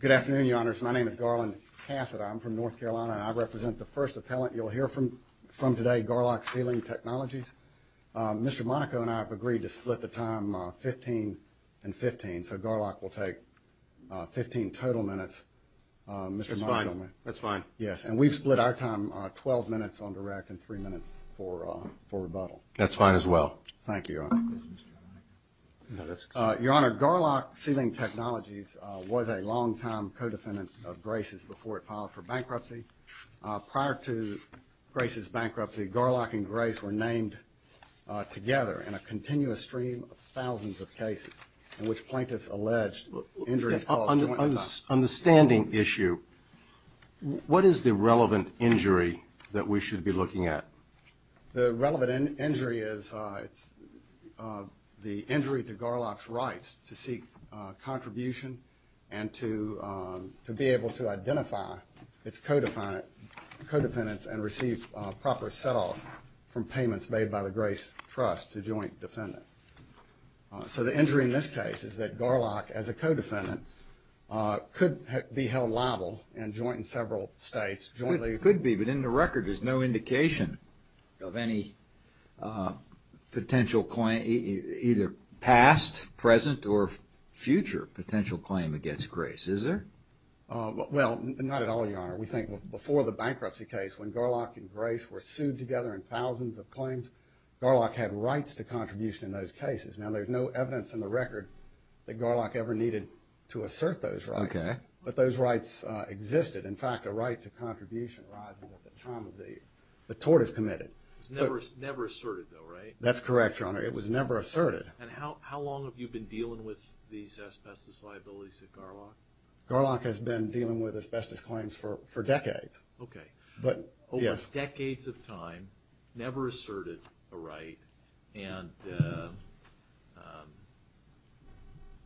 Good afternoon, Your Honors. My name is Garland Cassidy. I'm from North Carolina, and I represent the first appellant you'll hear from today, Garlock Ceiling Technologies. Mr. Monaco and I have agreed to split the time 15 and 15, so Garlock will take 15 total minutes. That's fine. That's fine. Yes, and we've split our time 12 minutes on the rec and 3 minutes for rebuttal. Thank you, Your Honor. Your Honor, Garlock Ceiling Technologies was a long-time co-defendant of Grace's before it filed for bankruptcy. Prior to Grace's bankruptcy, Garlock and Grace were named together in a continuous stream of thousands of cases, in which plaintiffs alleged injuries to all of the plaintiffs. On the standing issue, what is the relevant injury that we should be looking at? The relevant injury is the injury to Garlock's rights to seek contribution and to be able to identify its co-defendants and receive proper set-off from payments made by the Grace Trust to a joint defendant. So the injury in this case is that Garlock, as a co-defendant, could be held liable in joint in several states. It could be, but in the record, there's no indication of any potential claim, either past, present, or future potential claim against Grace. Is there? Well, not at all, Your Honor. We think before the bankruptcy case, when Garlock and Grace were sued together in thousands of claims, Garlock had rights to contribution in those cases. Now, there's no evidence in the record that Garlock ever needed to assert those rights. Okay. But those rights existed. In fact, a right to contribution, liable at the time of the tort is committed. It was never asserted, though, right? That's correct, Your Honor. It was never asserted. And how long have you been dealing with these asbestos liabilities at Garlock? Garlock has been dealing with asbestos claims for decades. Okay. Yes. Garlock, for decades of time, never asserted a right. And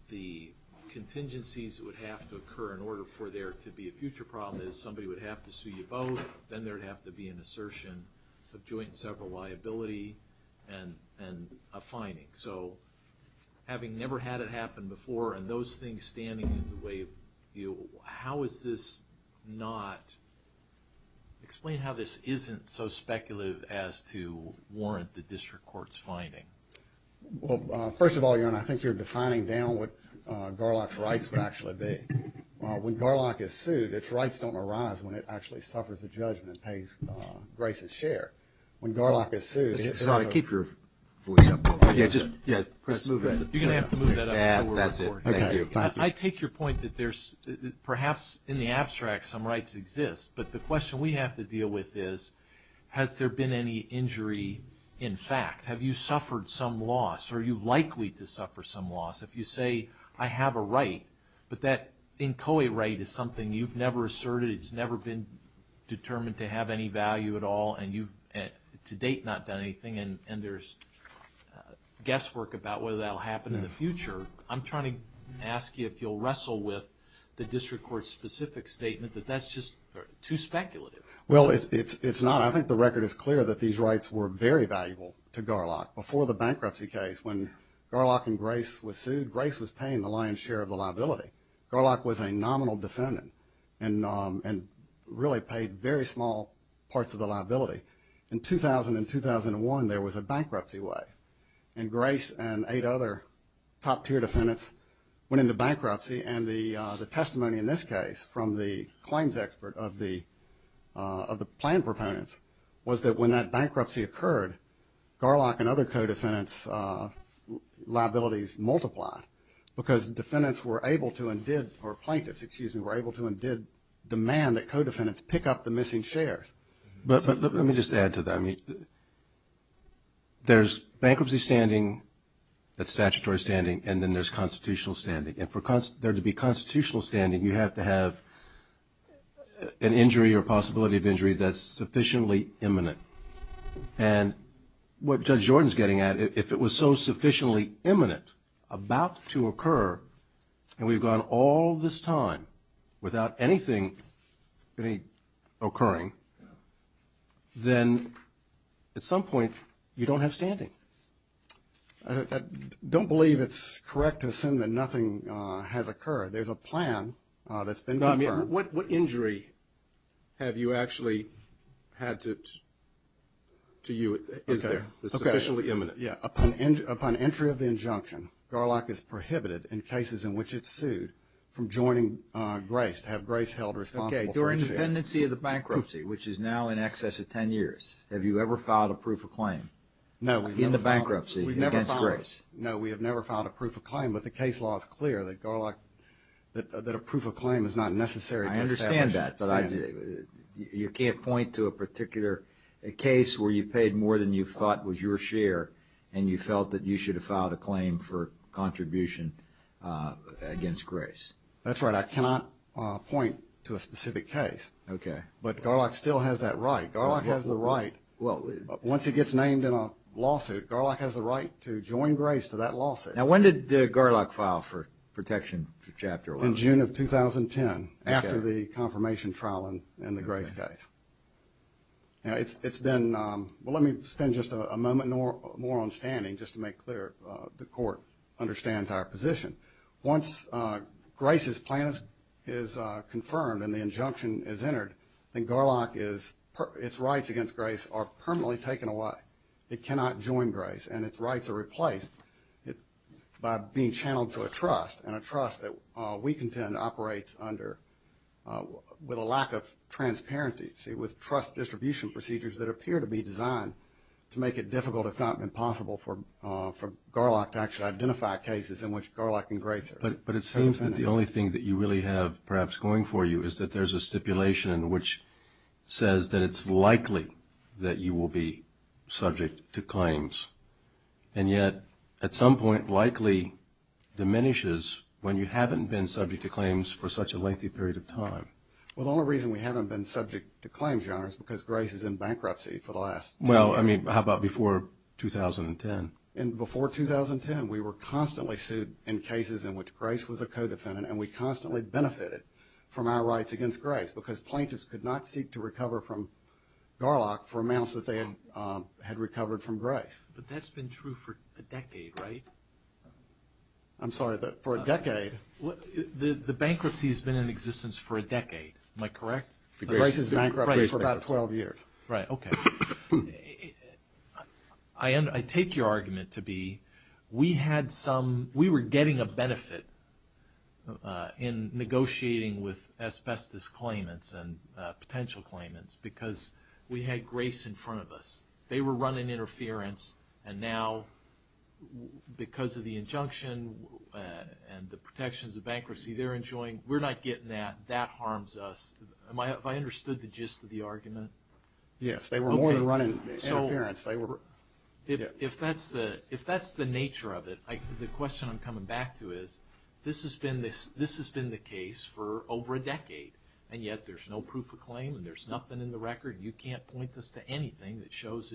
the contingencies that would have to occur in order for there to be a future problem is somebody would have to sue you both, then there would have to be an assertion of joint in several liability and a fining. So having never had it happen before and those things standing in the way, how is this not – explain how this isn't so speculative as to warrant the district court's finding. Well, first of all, Your Honor, I think you're defining down what Garlock's rights would actually be. When Garlock is sued, its rights don't arise when it actually suffers a judgment and pays Grace's share. When Garlock is sued – Sorry, keep your voice up. You're going to have to move that up. That's it. Thank you. I take your point that there's – perhaps in the abstract, some rights exist. But the question we have to deal with is, has there been any injury in fact? Have you suffered some loss? Are you likely to suffer some loss? If you say, I have a right, but that inchoate right is something you've never asserted, it's never been determined to have any value at all, and you've to date not done anything, and there's guesswork about whether that will happen in the future, I'm trying to ask you if you'll wrestle with the district court's specific statement that that's just too speculative. Well, it's not. I think the record is clear that these rights were very valuable to Garlock. Before the bankruptcy case, when Garlock and Grace were sued, Grace was paying the lion's share of the liability. Garlock was a nominal defendant and really paid very small parts of the liability. In 2000 and 2001, there was a bankruptcy wave, and Grace and eight other top-tier defendants went into bankruptcy. And the testimony in this case from the claims expert of the plan proponents was that when that bankruptcy occurred, Garlock and other co-defendants' liabilities multiplied because defendants were able to and did, or plaintiffs, excuse me, were able to and did demand that co-defendants pick up the missing shares. But let me just add to that. I mean, there's bankruptcy standing, that's statutory standing, and then there's constitutional standing. And for there to be constitutional standing, you have to have an injury or possibility of injury that's sufficiently imminent. And what Judge Jordan's getting at, if it was so sufficiently imminent, about to occur, and we've gone all this time without anything occurring, then at some point you don't have standing. I don't believe it's correct to assume that nothing has occurred. There's a plan that's been prepared. What injury have you actually had to you, is there, that's sufficiently imminent? Upon entry of the injunction, Garlock is prohibited in cases in which it's sued from joining Grace, to have Grace held responsible for the share. Okay. During the tendency of the bankruptcy, which is now in excess of 10 years, have you ever filed a proof of claim in the bankruptcy against Grace? No, we have never filed a proof of claim. But the case law is clear that Garlock, that a proof of claim is not necessary. I understand that, but you can't point to a particular case where you paid more than you thought was your share, and you felt that you should have filed a claim for contribution against Grace. That's right. I cannot point to a specific case. Okay. But Garlock still has that right. Garlock has the right. Well, once it gets named in a lawsuit, Garlock has the right to join Grace to that lawsuit. Now, when did Garlock file for protection for Chapter 11? In June of 2010, after the confirmation trial in the Grace case. Now, it's been – well, let me spend just a moment more on standing just to make clear the court understands our position. Once Grace's plan is confirmed and the injunction is entered, then Garlock is – its rights against Grace are permanently taken away. It cannot join Grace, and its rights are replaced by being channeled to a trust, and a trust that we contend operates under – with a lack of transparency, with trust distribution procedures that appear to be designed to make it difficult, if not impossible, for Garlock to actually identify cases in which Garlock and Grace are. But it seems that the only thing that you really have perhaps going for you is that there's a stipulation which says that it's likely that you will be subject to claims. And yet, at some point, likely diminishes when you haven't been subject to claims for such a lengthy period of time. Well, the only reason we haven't been subject to claims, Your Honor, is because Grace is in bankruptcy for the last – Well, I mean, how about before 2010? Before 2010, we were constantly sued in cases in which Grace was a co-defendant, and we constantly benefited from our rights against Grace, because plaintiffs could not seek to recover from Garlock for amounts that they had recovered from Grace. But that's been true for a decade, right? I'm sorry, for a decade? The bankruptcy has been in existence for a decade. Am I correct? Grace has been bankrupt for about 12 years. Right, okay. I take your argument to be we had some – we were getting a benefit in negotiating with asbestos claimants and potential claimants, because we had Grace in front of us. They were running interference, and now because of the injunction and the protections of bankruptcy they're enjoying, we're not getting that. That harms us. Yes, they were only running interference. If that's the nature of it, the question I'm coming back to is this has been the case for over a decade, and yet there's no proof of claim and there's nothing in the record. You can't point this to anything that shows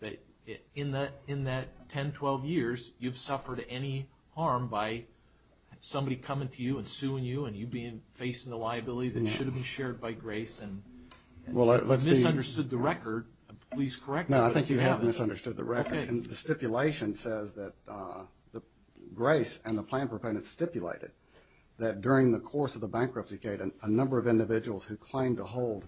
that in that 10, 12 years, you've suffered any harm by somebody coming to you and suing you and you facing the liability that should have been shared by Grace. Well, I misunderstood the record. Please correct me. No, I think you have misunderstood the record. The stipulation says that Grace and the claim proponents stipulated that during the course of the bankruptcy cadence, a number of individuals who claim to hold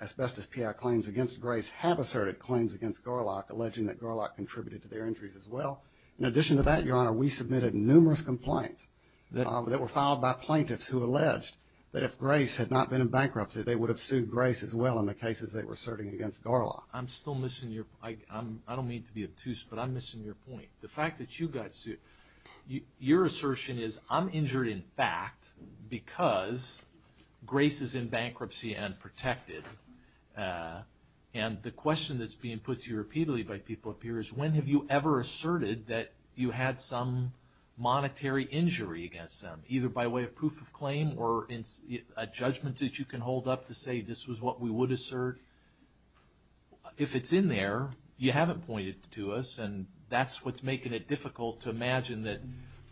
asbestos PI claims against Grace have asserted claims against Garlock, alleging that Garlock contributed to their injuries as well. In addition to that, Your Honor, we submitted numerous complaints that were filed by plaintiffs who alleged that if Grace had not been in bankruptcy, they would have sued Grace as well in the cases they were asserting against Garlock. I'm still missing your – I don't mean to be obtuse, but I'm missing your point. The fact that you got sued, your assertion is I'm injured in fact because Grace is in bankruptcy and protected. And the question that's being put to you repeatedly by people up here is when have you ever asserted that you had some monetary injury against them, either by way of proof of claim or a judgment that you can hold up to say this was what we would assert? If it's in there, you haven't pointed to us, and that's what's making it difficult to imagine that,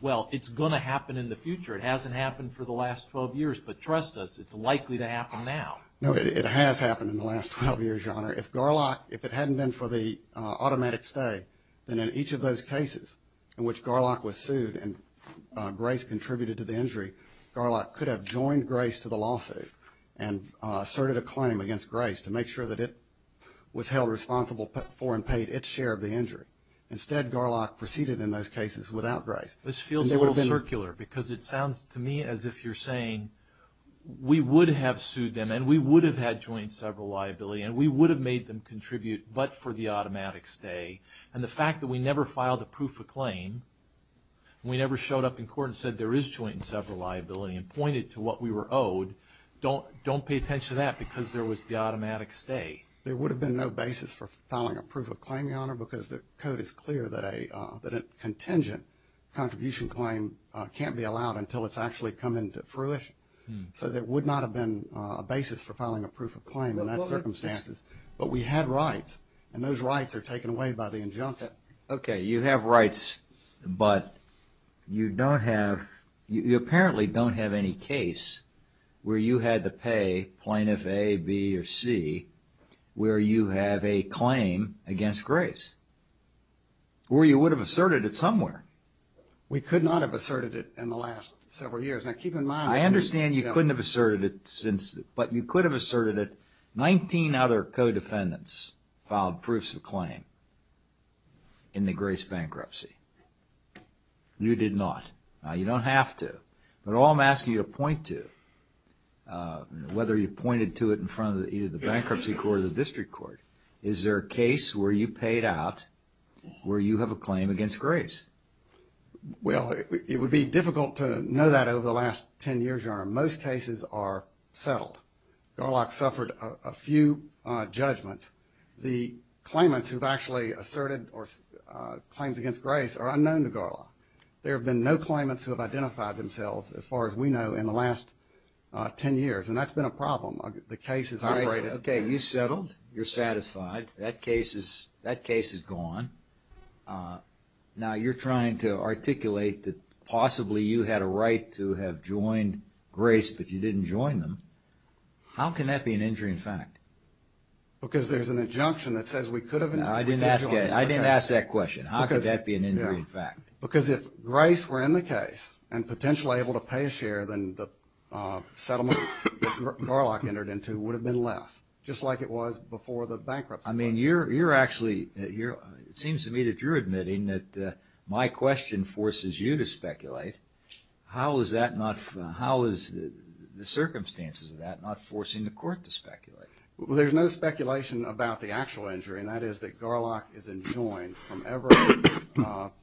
well, it's going to happen in the future. It hasn't happened for the last 12 years, but trust us, it's likely to happen now. No, it has happened in the last 12 years, Your Honor. If Garlock – if it hadn't been for the automatic stay, then in each of those cases in which Garlock was sued and Grace contributed to the injury, Garlock could have joined Grace to the lawsuit and asserted a claim against Grace to make sure that it was held responsible for and paid its share of the injury. Instead, Garlock proceeded in those cases without Grace. This feels a little circular because it sounds to me as if you're saying we would have sued them and we would have had joint several liability and we would have made them contribute but for the automatic stay. And the fact that we never filed a proof of claim, we never showed up in court and said there is joint and several liability and pointed to what we were owed, don't pay attention to that because there was the automatic stay. There would have been no basis for filing a proof of claim, Your Honor, because the code is clear that a contingent contribution claim can't be allowed until it's actually come into fruition. So there would not have been a basis for filing a proof of claim in those circumstances. But we had rights, and those rights are taken away by the injunctive. Okay, you have rights, but you don't have – you apparently don't have any case where you had to pay Plaintiff A, B, or C where you have a claim against Grace or you would have asserted it somewhere. We could not have asserted it in the last several years. I understand you couldn't have asserted it, but you could have asserted it. Nineteen other co-defendants filed proofs of claim in the Grace bankruptcy. You did not. Now, you don't have to, but all I'm asking you to point to, whether you pointed to it in front of either the bankruptcy court or the district court, is there a case where you paid out where you have a claim against Grace? Well, it would be difficult to know that over the last 10 years, Your Honor. Most cases are settled. Garlock suffered a few judgments. The claimants who've actually asserted or claimed against Grace are unknown to Garlock. There have been no claimants who have identified themselves, as far as we know, in the last 10 years, and that's been a problem. The case is – Okay, you settled. You're satisfied. That case is gone. Now, you're trying to articulate that possibly you had a right to have joined Grace, but you didn't join them. How can that be an injury in fact? Because there's an injunction that says we could have. I didn't ask that question. How could that be an injury in fact? Because if Grace were in the case and potentially able to pay a share, then the settlement that Garlock entered into would have been less, just like it was before the bankruptcy. I mean, you're actually – it seems to me that you're admitting that my question forces you to speculate. How is that not – how is the circumstances of that not forcing the court to speculate? Well, there's no speculation about the actual injury, and that is that Garlock is enjoined from ever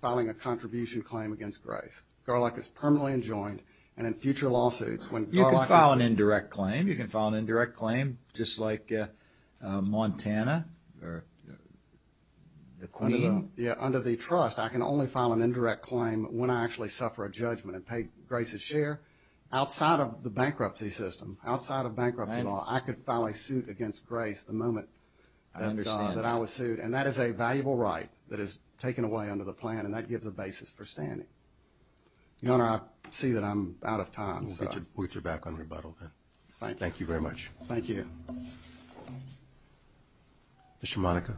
filing a contribution claim against Grace. Garlock is permanently enjoined. And in future lawsuits, when Garlock – You can file an indirect claim. You can file an indirect claim, just like Montana or the Queen. Under the trust, I can only file an indirect claim when I actually suffer a judgment and pay Grace's share. Outside of the bankruptcy system, outside of bankruptcy law, I could file a suit against Grace the moment I understood that I was sued, and that is a valuable right that is taken away under the plan, and that gives a basis for standing. Your Honor, I see that I'm out of time. We'll get you back on rebuttal then. Thank you very much. Thank you. Mr. Monaco.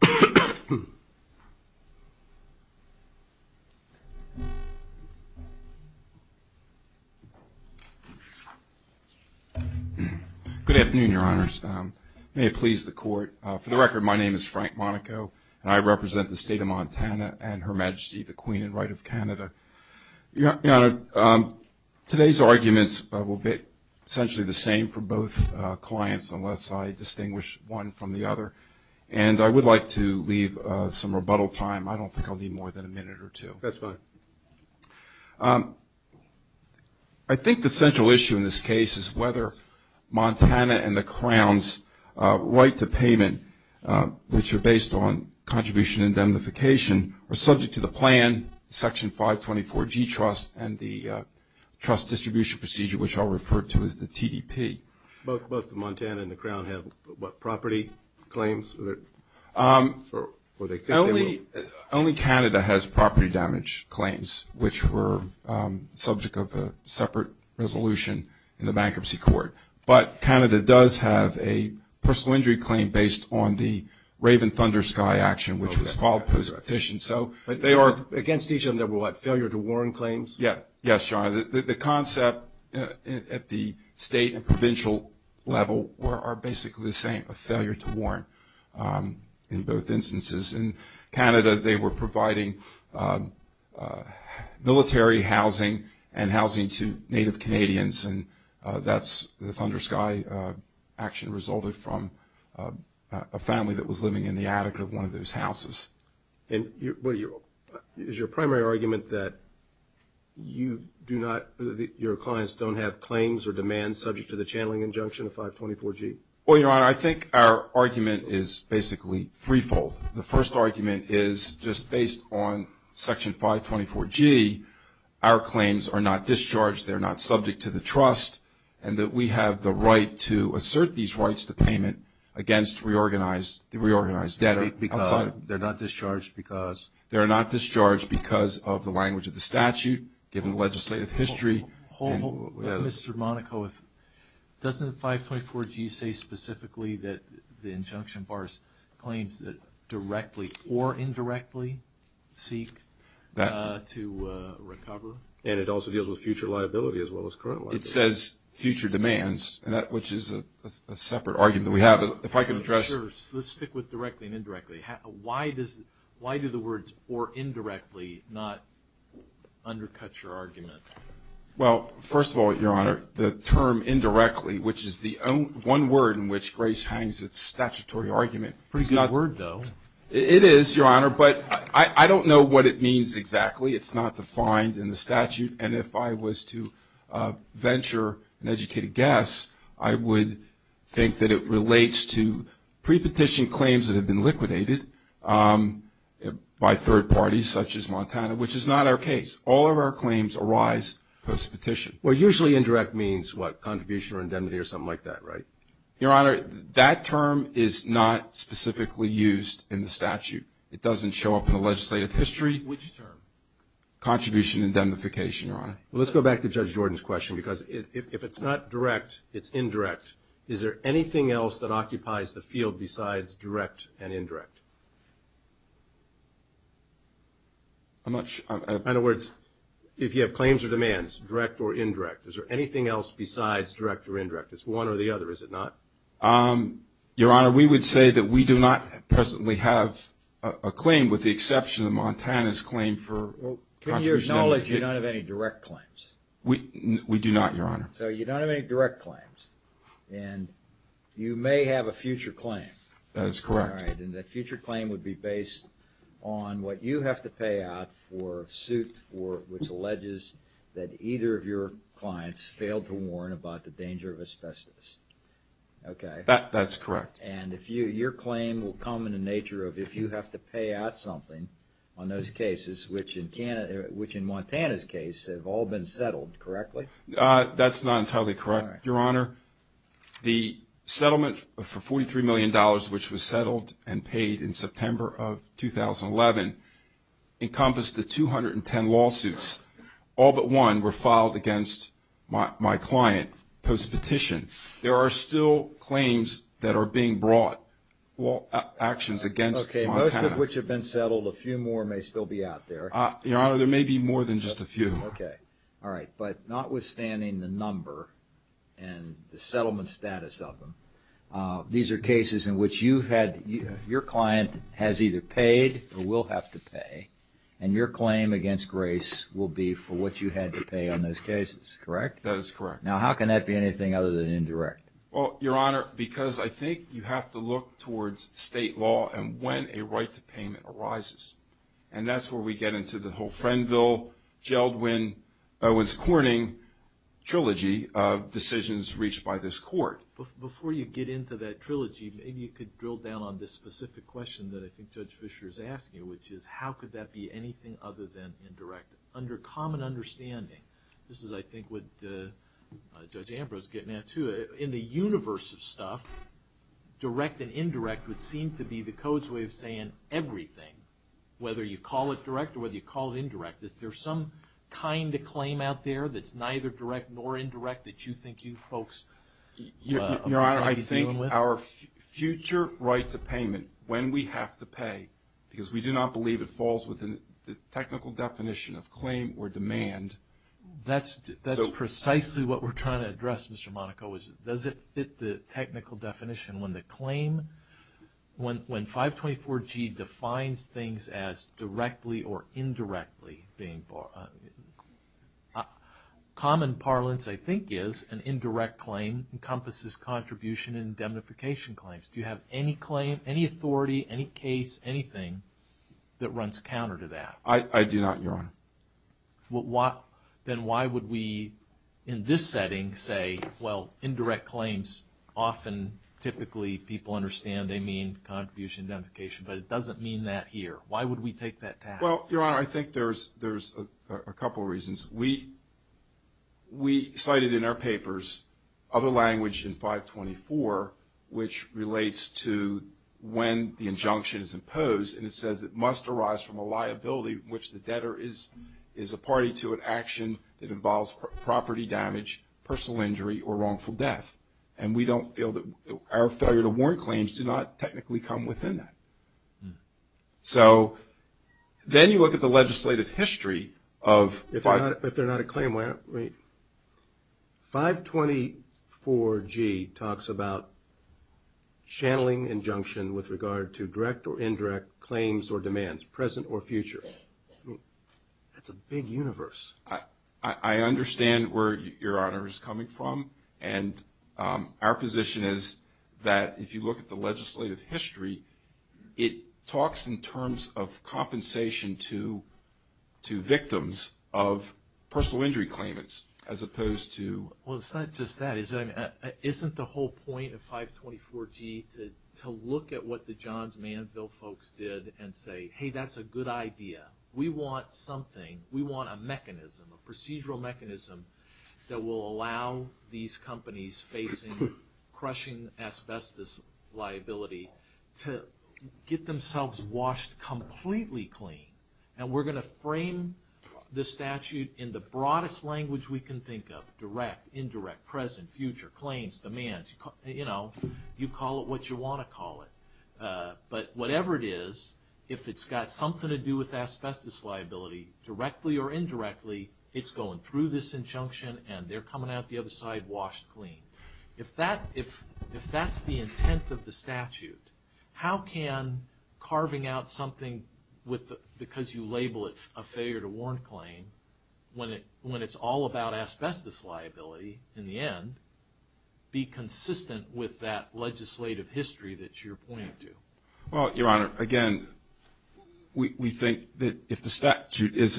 Good afternoon, Your Honors. May it please the Court. For the record, my name is Frank Monaco, and I represent the State of Montana and Her Majesty the Queen in right of Canada. Your Honor, today's arguments will be essentially the same for both clients, unless I distinguish one from the other, and I would like to leave some rebuttal time. I don't think I'll need more than a minute or two. That's fine. I think the central issue in this case is whether Montana and the Crown's right to payment, which are based on contribution indemnification, are subject to the plan, Section 524 G Trust, and the trust distribution procedure, which I'll refer to as the TDP. Both Montana and the Crown have what, property claims? Only Canada has property damage claims, which were subject of a separate resolution in the Bankruptcy Court, but Canada does have a personal injury claim based on the Raven Thundersky action, which was called for sufficient. They are against each other with what, failure to warn claims? Yes, Your Honor. The concept at the state and provincial level are basically the same, a failure to warn in both instances. In Canada, they were providing military housing and housing to Native Canadians, and that's the Thundersky action resulted from a family that was living in the attic of one of those houses. Is your primary argument that you do not, your clients don't have claims or demands subject to the channeling injunction of 524 G? Well, Your Honor, I think our argument is basically threefold. The first argument is just based on Section 524 G, our claims are not discharged. They're not subject to the trust, and that we have the right to assert these rights to payment against reorganized debt. They're not discharged because? They're not discharged because of the language of the statute, given the legislative history. Mr. Monaco, doesn't 524 G say specifically that the injunction bars claims that directly or indirectly seek to recover? And it also deals with future liability as well as current liability. It says future demands, which is a separate argument that we have. If I could address? Let's stick with directly and indirectly. Why do the words or indirectly not undercut your argument? Well, first of all, Your Honor, the term indirectly, which is the one word in which grace hangs its statutory argument. It's a pretty good word, though. It is, Your Honor, but I don't know what it means exactly. It's not defined in the statute, and if I was to venture an educated guess, I would think that it relates to pre-petition claims that have been liquidated by third parties, such as Montana, which is not our case. All of our claims arise post-petition. Well, usually indirect means what? Contribution or indemnity or something like that, right? Your Honor, that term is not specifically used in the statute. It doesn't show up in the legislative history. Which term? Contribution and indemnification, Your Honor. Let's go back to Judge Jordan's question, because if it's not direct, it's indirect. Is there anything else that occupies the field besides direct and indirect? In other words, if you have claims or demands, direct or indirect, is there anything else besides direct or indirect? It's one or the other, is it not? Your Honor, we would say that we do not presently have a claim with the exception of Montana's claim for contribution. To your knowledge, you don't have any direct claims. We do not, Your Honor. So you don't have any direct claims, and you may have a future claim. That is correct. All right, and that future claim would be based on what you have to pay out for a suit which alleges that either of your clients failed to warn about the danger of asbestos. Okay. That's correct. And your claim will come in the nature of if you have to pay out something on those cases, which in Montana's case have all been settled, correctly? That's not entirely correct, Your Honor. The settlement for $43 million, which was settled and paid in September of 2011, encompassed the 210 lawsuits. All but one were filed against my client post-petition. There are still claims that are being brought, actions against Montana. Okay, most of which have been settled. A few more may still be out there. Your Honor, there may be more than just a few. Okay, all right. But notwithstanding the number and the settlement status of them, these are cases in which your client has either paid or will have to pay, and your claim against Grace will be for what you had to pay on those cases, correct? That is correct. Now, how can that be anything other than indirect? Well, Your Honor, because I think you have to look towards state law and when a right to payment arises. And that's where we get into the whole Frenville-Jeldwin-Owens-Corning trilogy of decisions reached by this court. Before you get into that trilogy, maybe you could drill down on this specific question that I think Judge Fischer is asking you, which is how could that be anything other than indirect? Under common understanding, this is, I think, what Judge Ambrose is getting at, too. In the universe of stuff, direct and indirect would seem to be the code's way of saying everything, whether you call it direct or whether you call it indirect, that there's some kind of claim out there that's neither direct nor indirect that you think you folks are going to be dealing with. Your Honor, I think our future right to payment, when we have to pay, because we do not believe it falls within the technical definition of claim or demand. That's precisely what we're trying to address, Mr. Monaco. Does it fit the technical definition when the claim, when 524G defines things as directly or indirectly being barred? Common parlance, I think, is an indirect claim encompasses contribution and indemnification claims. Do you have any claim, any authority, any case, anything that runs counter to that? I do not, Your Honor. Then why would we, in this setting, say, well, indirect claims often, typically, people understand they mean contribution and indemnification, but it doesn't mean that here. Why would we take that path? Well, Your Honor, I think there's a couple of reasons. We cited in our papers other language in 524 which relates to when the injunction is imposed, and it says it must arise from a liability in which the debtor is a party to an action that involves property damage, personal injury, or wrongful death. And we don't feel that our failure to warn claims do not technically come within that. So then you look at the legislative history of 524G. It talks about channeling injunction with regard to direct or indirect claims or demands, present or future. That's a big universe. I understand where Your Honor is coming from, and our position is that if you look at the legislative history, it talks in terms of compensation to victims of personal injury claimants as opposed to... Well, it's not just that. Isn't the whole point of 524G to look at what the Johns Manville folks did and say, hey, that's a good idea. We want something. We want a mechanism, a procedural mechanism that will allow these companies facing crushing asbestos liability to get themselves washed completely clean. And we're going to frame the statute in the broadest language we can think of, direct, indirect, present, future, claims, demands. You call it what you want to call it. But whatever it is, if it's got something to do with asbestos liability, directly or indirectly, it's going through this injunction, and they're coming out the other side washed clean. If that's the intent of the statute, how can carving out something because you label it a failure to warrant claim, when it's all about asbestos liability in the end, be consistent with that legislative history that you're pointing to? Well, Your Honor, again, we think that if the statute is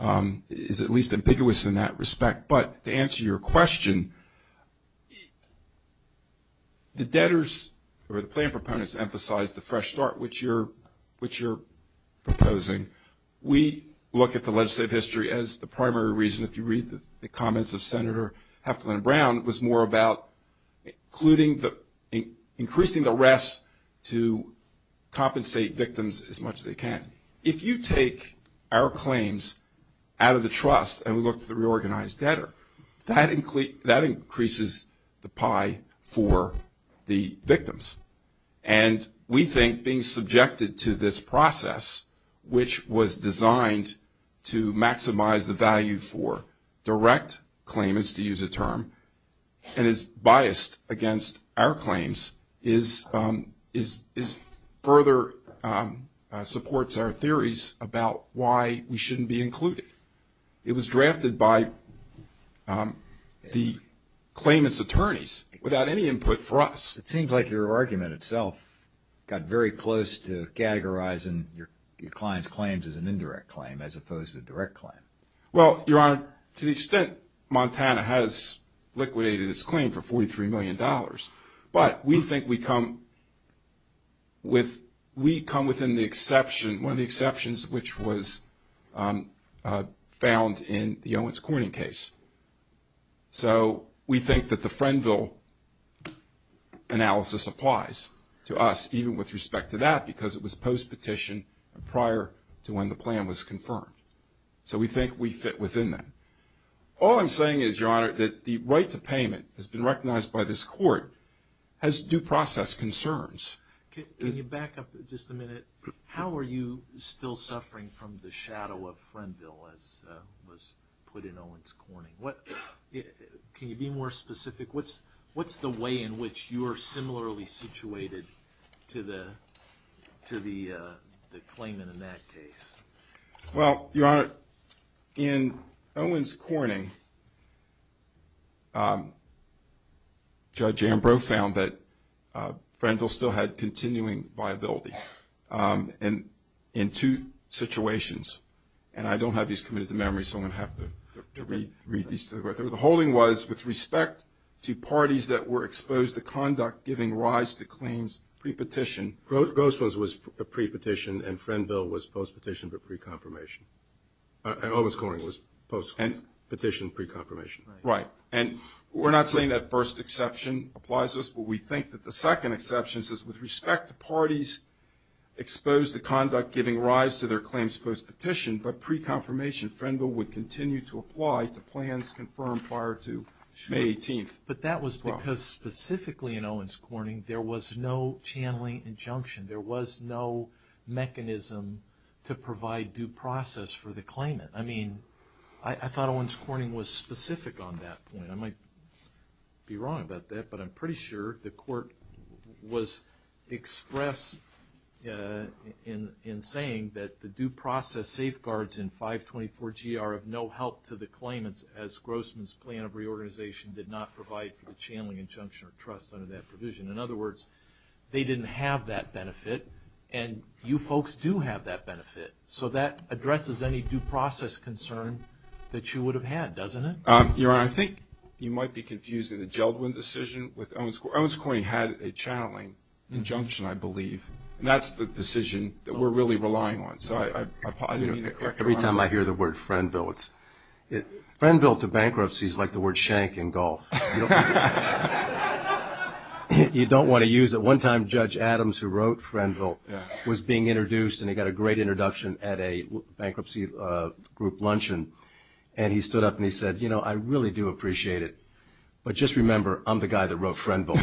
at least ambiguous in that respect, but to answer your question, the debtors or the claim proponents emphasize the fresh start, which you're proposing. We look at the legislative history as the primary reason. If you read the comments of Senator Heflin-Brown, it was more about increasing the rest to compensate victims as much as they can. And if you take our claims out of the trust and look at the reorganized debtor, that increases the pie for the victims. And we think being subjected to this process, which was designed to maximize the value for direct claimants, to use a term, and is biased against our claims, further supports our theories about why we shouldn't be included. It was drafted by the claimant's attorneys without any input from us. It seems like your argument itself got very close to categorizing your client's claims as an indirect claim as opposed to a direct claim. Well, Your Honor, to the extent Montana has liquidated its claim for $43 million, but we think we come within one of the exceptions which was found in the Owens-Corning case. So we think that the Frenville analysis applies to us, even with respect to that, because it was post-petition prior to when the plan was confirmed. So we think we fit within that. All I'm saying is, Your Honor, that the right to payment has been recognized by this court as due process concerns. Can you back up just a minute? How are you still suffering from the shadow of Frenville, as was put in Owens-Corning? Can you be more specific? What's the way in which you are similarly situated to the claimant in that case? Well, Your Honor, in Owens-Corning, Judge Ambrose found that Frenville still had continuing viability in two situations. And I don't have these committed to memory, so I'm going to have to read these to the record. The holding was, with respect to parties that were exposed to conduct giving rise to claims pre-petition, Grosvenor's was pre-petition, and Frenville was post-petition for pre-confirmation. And Owens-Corning was post-petition pre-confirmation. Right. And we're not saying that first exception applies to us, but we think that the second exception is, with respect to parties exposed to conduct giving rise to their claims post-petition, but pre-confirmation, Frenville would continue to apply to plans confirmed prior to May 18th. But that was because, specifically in Owens-Corning, there was no channeling injunction. There was no mechanism to provide due process for the claimant. I mean, I thought Owens-Corning was specific on that point. I might be wrong about that, but I'm pretty sure the court was expressed in saying that the due process safeguards in 524-GR have no help to the claimant, as Grosvenor's plan of reorganization did not provide for the channeling injunction or trust under that provision. In other words, they didn't have that benefit, and you folks do have that benefit. So that addresses any due process concern that you would have had, doesn't it? Your Honor, I think you might be confusing the Jeldwin decision with Owens-Corning. Owens-Corning had a channeling injunction, I believe, and that's the decision that we're really relying on. Every time I hear the word Frenville, Frenville to bankruptcy is like the word shank in golf. You don't want to use it. One time Judge Adams, who wrote Frenville, was being introduced, and he got a great introduction at a bankruptcy group luncheon, and he stood up and he said, you know, I really do appreciate it, but just remember, I'm the guy that wrote Frenville.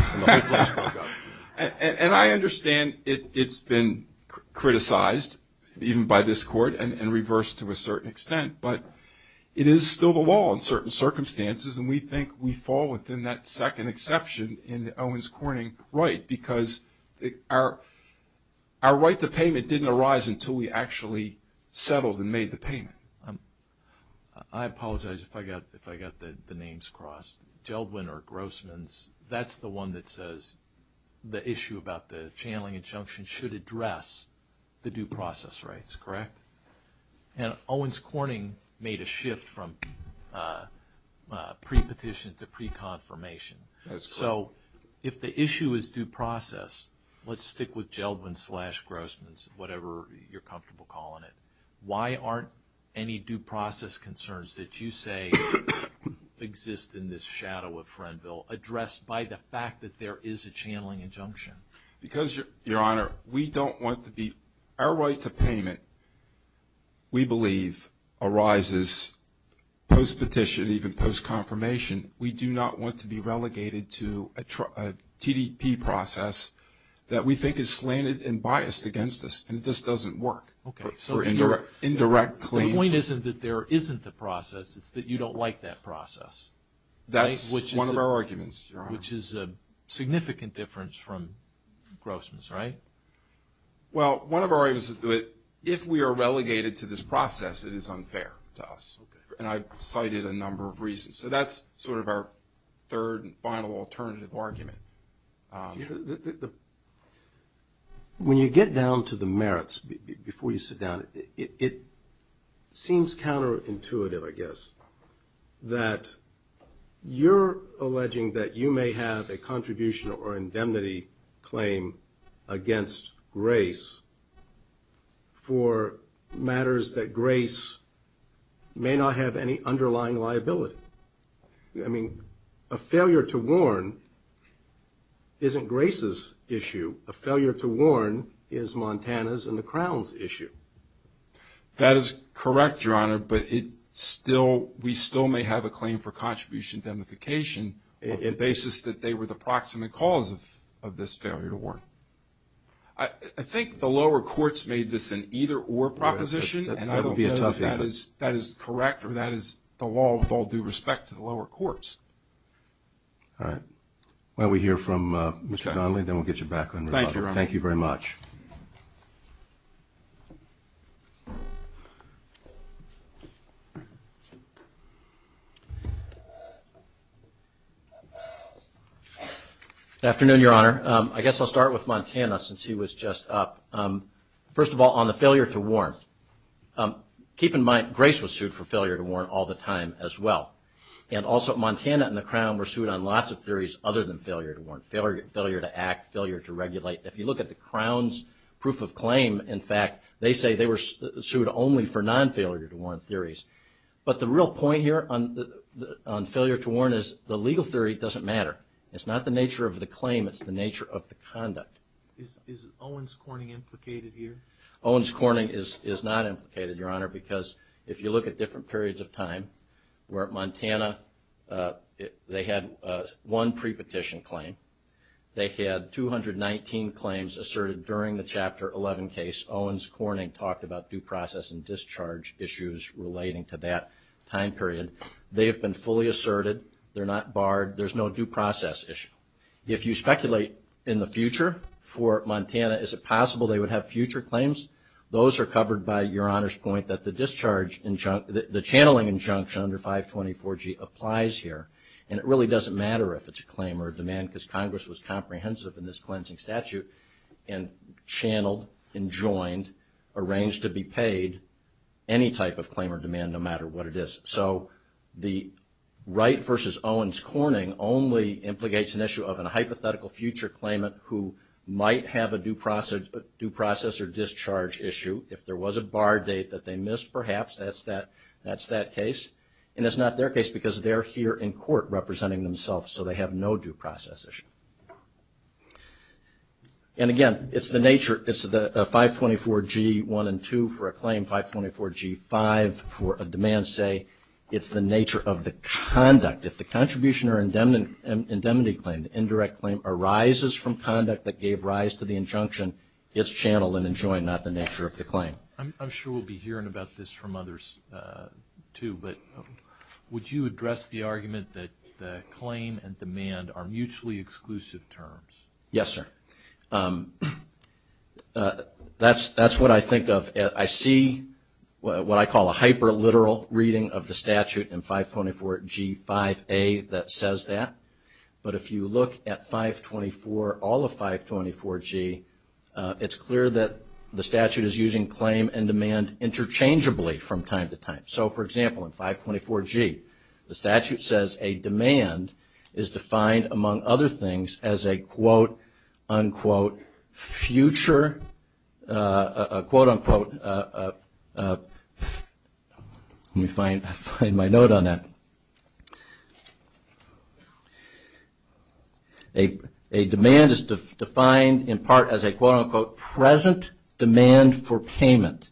And I understand it's been criticized, even by this Court, and reversed to a certain extent, but it is still the law in certain circumstances, and we think we fall within that second exception in the Owens-Corning right, because our right to payment didn't arise until we actually settled and made the payment. I apologize if I got the names crossed. Jeldwin or Grossman's, that's the one that says the issue about the channeling injunction should address the due process rights, correct? And Owens-Corning made a shift from pre-petition to pre-confirmation. So if the issue is due process, let's stick with Jeldwin slash Grossman's, whatever you're comfortable calling it. Why aren't any due process concerns that you say exist in this shadow of Frenville addressed by the fact that there is a channeling injunction? Because, Your Honor, we don't want to be – our right to payment, we believe, arises post-petition, even post-confirmation. We do not want to be relegated to a TDP process that we think is slanted and biased against us, and this doesn't work. Okay, so the point isn't that there isn't a process, it's that you don't like that process. That's one of our arguments, Your Honor. Which is a significant difference from Grossman's, right? Well, one of our arguments is that if we are relegated to this process, it is unfair to us, and I've cited a number of reasons. So that's sort of our third and final alternative argument. When you get down to the merits, before you sit down, it seems counterintuitive, I guess, that you're alleging that you may have a contribution or indemnity claim against Grace for matters that Grace may not have any underlying liability. I mean, a failure to warn isn't Grace's issue. A failure to warn is Montana's and the Crown's issue. That is correct, Your Honor, but we still may have a claim for contribution indemnification on the basis that they were the proximate cause of this failure to warn. I think the lower courts made this an either-or proposition, and I don't think that is correct or that is the law of all due respect to the lower courts. All right. Why don't we hear from Mr. Donnelly, then we'll get you back on the topic. Thank you, Your Honor. Thank you very much. Good afternoon, Your Honor. I guess I'll start with Montana since he was just up. First of all, on the failure to warn, keep in mind Grace was sued for failure to warn all the time as well, and also Montana and the Crown were sued on lots of theories other than failure to warn, failure to act, failure to regulate. If you look at the Crown's proof of claim, in fact, they say they were sued only for non-failure to warn theories. But the real point here on failure to warn is the legal theory doesn't matter. It's not the nature of the claim, it's the nature of the conduct. Is Owens-Corning implicated here? Owens-Corning is not implicated, Your Honor, because if you look at different periods of time, we're at Montana, they had one pre-petition claim. They had 219 claims asserted during the Chapter 11 case. Owens-Corning talked about due process and discharge issues relating to that time period. They have been fully asserted. They're not barred. There's no due process issue. If you speculate in the future for Montana, is it possible they would have future claims? Those are covered by Your Honor's point that the discharge, the channeling injunction under 524G applies here, and it really doesn't matter if it's a claim or a demand because Congress was comprehensive in this cleansing statute and channeled and joined, arranged to be paid any type of claim or demand no matter what it is. So the Wright v. Owens-Corning only implicates an issue of a hypothetical future claimant who might have a due process or discharge issue. If there was a barred date that they missed, perhaps that's that case. And it's not their case because they're here in court representing themselves, so they have no due process issue. And again, it's the nature of the 524G-1 and 2 for a claim, 524G-5 for a demand, say, it's the nature of the conduct. If the contribution or indemnity claim, the indirect claim, arises from conduct that gave rise to the injunction, it's channeled and enjoined, not the nature of the claim. I'm sure we'll be hearing about this from others too, but would you address the argument that claim and demand are mutually exclusive terms? Yes, sir. That's what I think of. I see what I call a hyperliteral reading of the statute in 524G-5A that says that. But if you look at 524, all of 524G, it's clear that the statute is using claim and demand interchangeably from time to time. So, for example, in 524G, the statute says a demand is defined, among other things, as a, quote, unquote, future, quote, unquote, let me find my note on that. A demand is defined in part as a, quote, unquote, present demand for payment.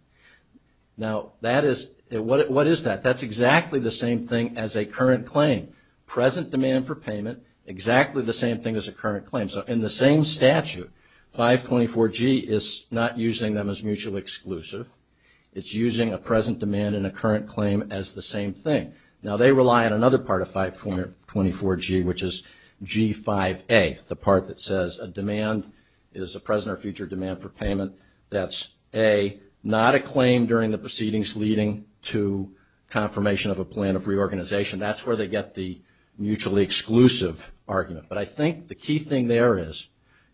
Now, that is, what is that? That's exactly the same thing as a current claim. Present demand for payment, exactly the same thing as a current claim. So, in the same statute, 524G is not using them as mutually exclusive. It's using a present demand and a current claim as the same thing. Now, they rely on another part of 524G, which is G-5A, the part that says a demand is a present or future demand for payment. That's a, not a claim during the proceedings leading to confirmation of a plan of reorganization. That's where they get the mutually exclusive argument. But I think the key thing there is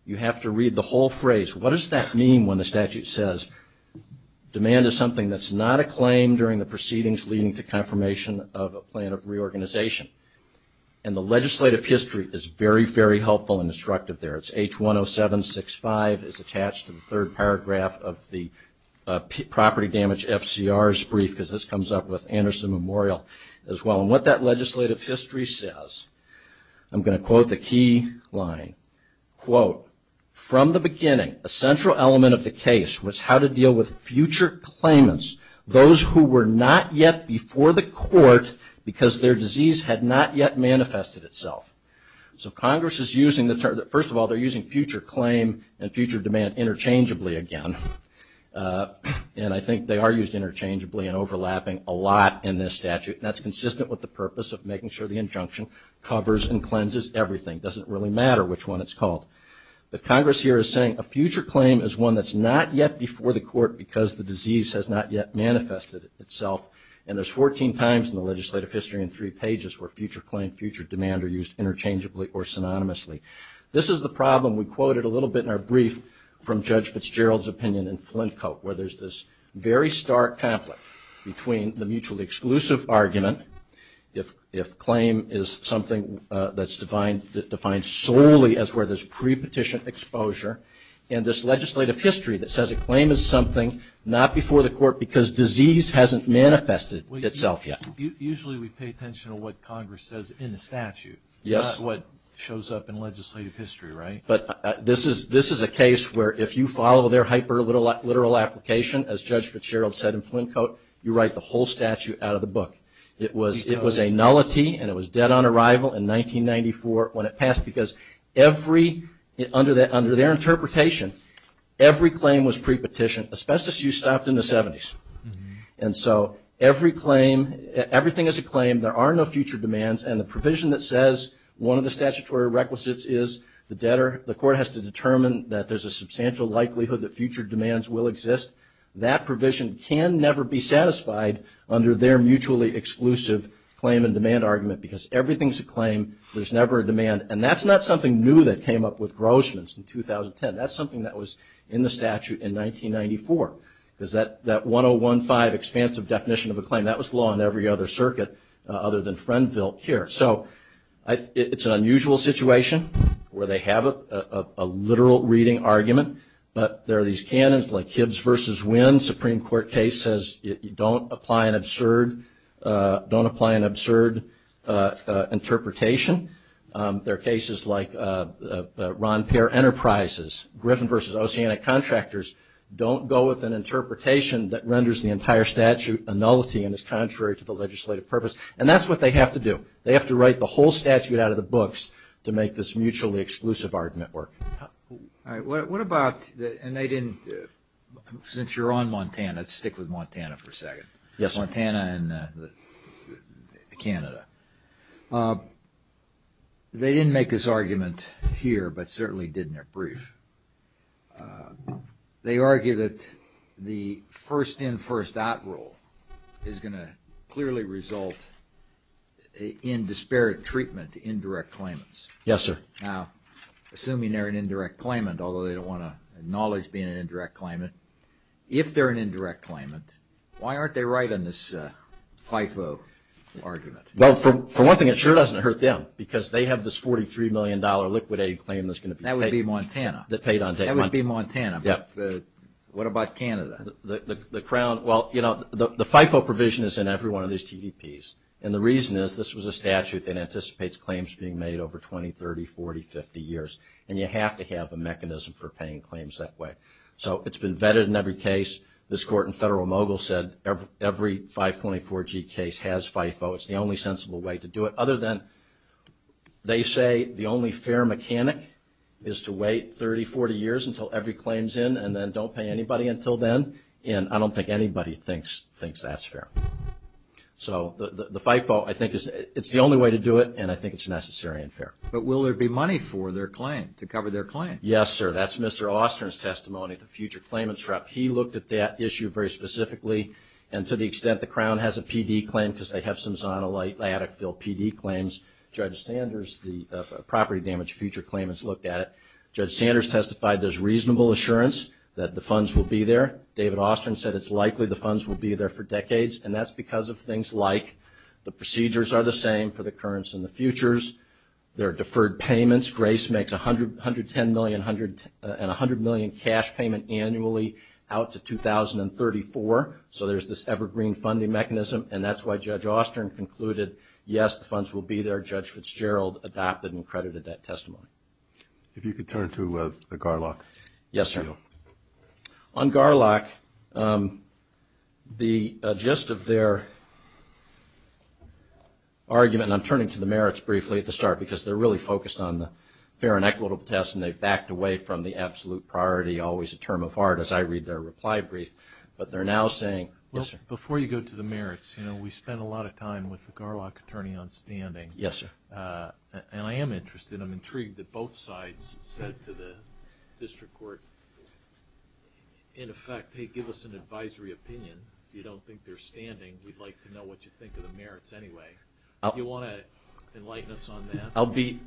you have to read the whole phrase. What does that mean when the statute says demand is something that's not a claim during the proceedings leading to confirmation of a plan of reorganization? And the legislative history is very, very helpful and instructive there. It's H10765 is attached to the third paragraph of the property damage FCR's brief because this comes up with Anderson Memorial as well. And what that legislative history says, I'm going to quote the key line, quote, from the beginning, a central element of the case was how to deal with future claimants, those who were not yet before the court because their disease had not yet manifested itself. So Congress is using the term, first of all, they're using future claim and future demand interchangeably again. And I think they are used interchangeably and overlapping a lot in this statute. And that's consistent with the purpose of making sure the injunction covers and cleanses everything. It doesn't really matter which one it's called. But Congress here is saying a future claim is one that's not yet before the court because the disease has not yet manifested itself. And there's 14 times in the legislative history in three pages where future claim, future demand are used interchangeably or synonymously. This is the problem we quoted a little bit in our brief from Judge Fitzgerald's opinion in Flintcote, where there's this very stark conflict between the mutually exclusive argument, if claim is something that's defined solely as where there's pre-petition exposure, and this legislative history that says a claim is something not before the court because disease hasn't manifested itself yet. Usually we pay attention to what Congress says in the statute, not what shows up in legislative history, right? But this is a case where if you follow their hyperliteral application, as Judge Fitzgerald said in Flintcote, you write the whole statute out of the book. It was a nullity and it was dead on arrival in 1994 when it passed because every, under their interpretation, every claim was pre-petition. Asbestos use stopped in the 70s. And so every claim, everything is a claim, there are no future demands, and the provision that says one of the statutory requisites is the debtor, the court has to determine that there's a substantial likelihood that future demands will exist. That provision can never be satisfied under their mutually exclusive claim and demand argument because everything's a claim, there's never a demand. And that's not something new that came up with Grossman's in 2010. That's something that was in the statute in 1994 because that 1015 expansive definition of a claim, that was law in every other circuit other than Frenville here. So it's an unusual situation where they have a literal reading argument, but there are these canons like kids versus wind. Supreme Court case says don't apply an absurd interpretation. There are cases like Ron Peer Enterprises. Griffin versus Oceanic Contractors don't go with an interpretation that renders the entire statute a nullity and is contrary to the legislative purpose. And that's what they have to do. They have to write the whole statute out of the books to make this mutually exclusive argument work. All right, what about, and they didn't, since you're on Montana, let's stick with Montana for a second. Yes, Montana and Canada. They didn't make this argument here, but certainly didn't at brief. They argue that the first in, first out rule is going to clearly result in disparate treatment, indirect claimants. Yes, sir. Now, assuming they're an indirect claimant, although they don't want to acknowledge being an indirect claimant, if they're an indirect claimant, why aren't they right in this FIFO argument? Well, for one thing, it sure doesn't hurt them, because they have this $43 million liquid aid claim that's going to be paid. That would be Montana. That paid on day one. That would be Montana. Yes. What about Canada? The Crown, well, you know, the FIFO provision is in every one of these GDPs, and the reason is this was a statute that anticipates claims being made over 20, 30, 40, 50 years, and you have to have a mechanism for paying claims that way. So it's been vetted in every case. This court in Federal Mogul said every 524G case has FIFO. It's the only sensible way to do it, other than they say the only fair mechanic is to wait 30, 40 years until every claim's in, and then don't pay anybody until then, and I don't think anybody thinks that's fair. So the FIFO, I think it's the only way to do it, and I think it's necessary and fair. But will there be money for their claim, to cover their claim? Yes, sir. That's Mr. Ostrand's testimony, the future claimants rep. He looked at that issue very specifically, and to the extent the Crown has a PD claim, because they have some Zona-like attic-filled PD claims. Judge Sanders, the property damage future claimants, looked at it. Judge Sanders testified there's reasonable assurance that the funds will be there. David Ostrand said it's likely the funds will be there for decades, and that's because of things like the procedures are the same for the currents and the futures. There are deferred payments. Grace makes $110 million and $100 million cash payment annually out to 2034. So there's this evergreen funding mechanism, and that's why Judge Ostrand concluded, yes, the funds will be there. Judge Fitzgerald adopted and credited that testimony. If you could turn to the Garlock. Yes, sir. Thank you. On Garlock, the gist of their argument, and I'm turning to the merits briefly at the start, because they're really focused on the fair and equitable test, and they've backed away from the absolute priority, always a term of heart, as I read their reply brief. But they're now saying, yes, sir. Before you go to the merits, you know, we spent a lot of time with the Garlock attorney on standing. Yes, sir. And I am interested, I'm intrigued that both sides said to the district court, in effect, hey, give us an advisory opinion. If you don't think they're standing, we'd like to know what you think of the merits anyway. Do you want to enlighten us on that? I'll be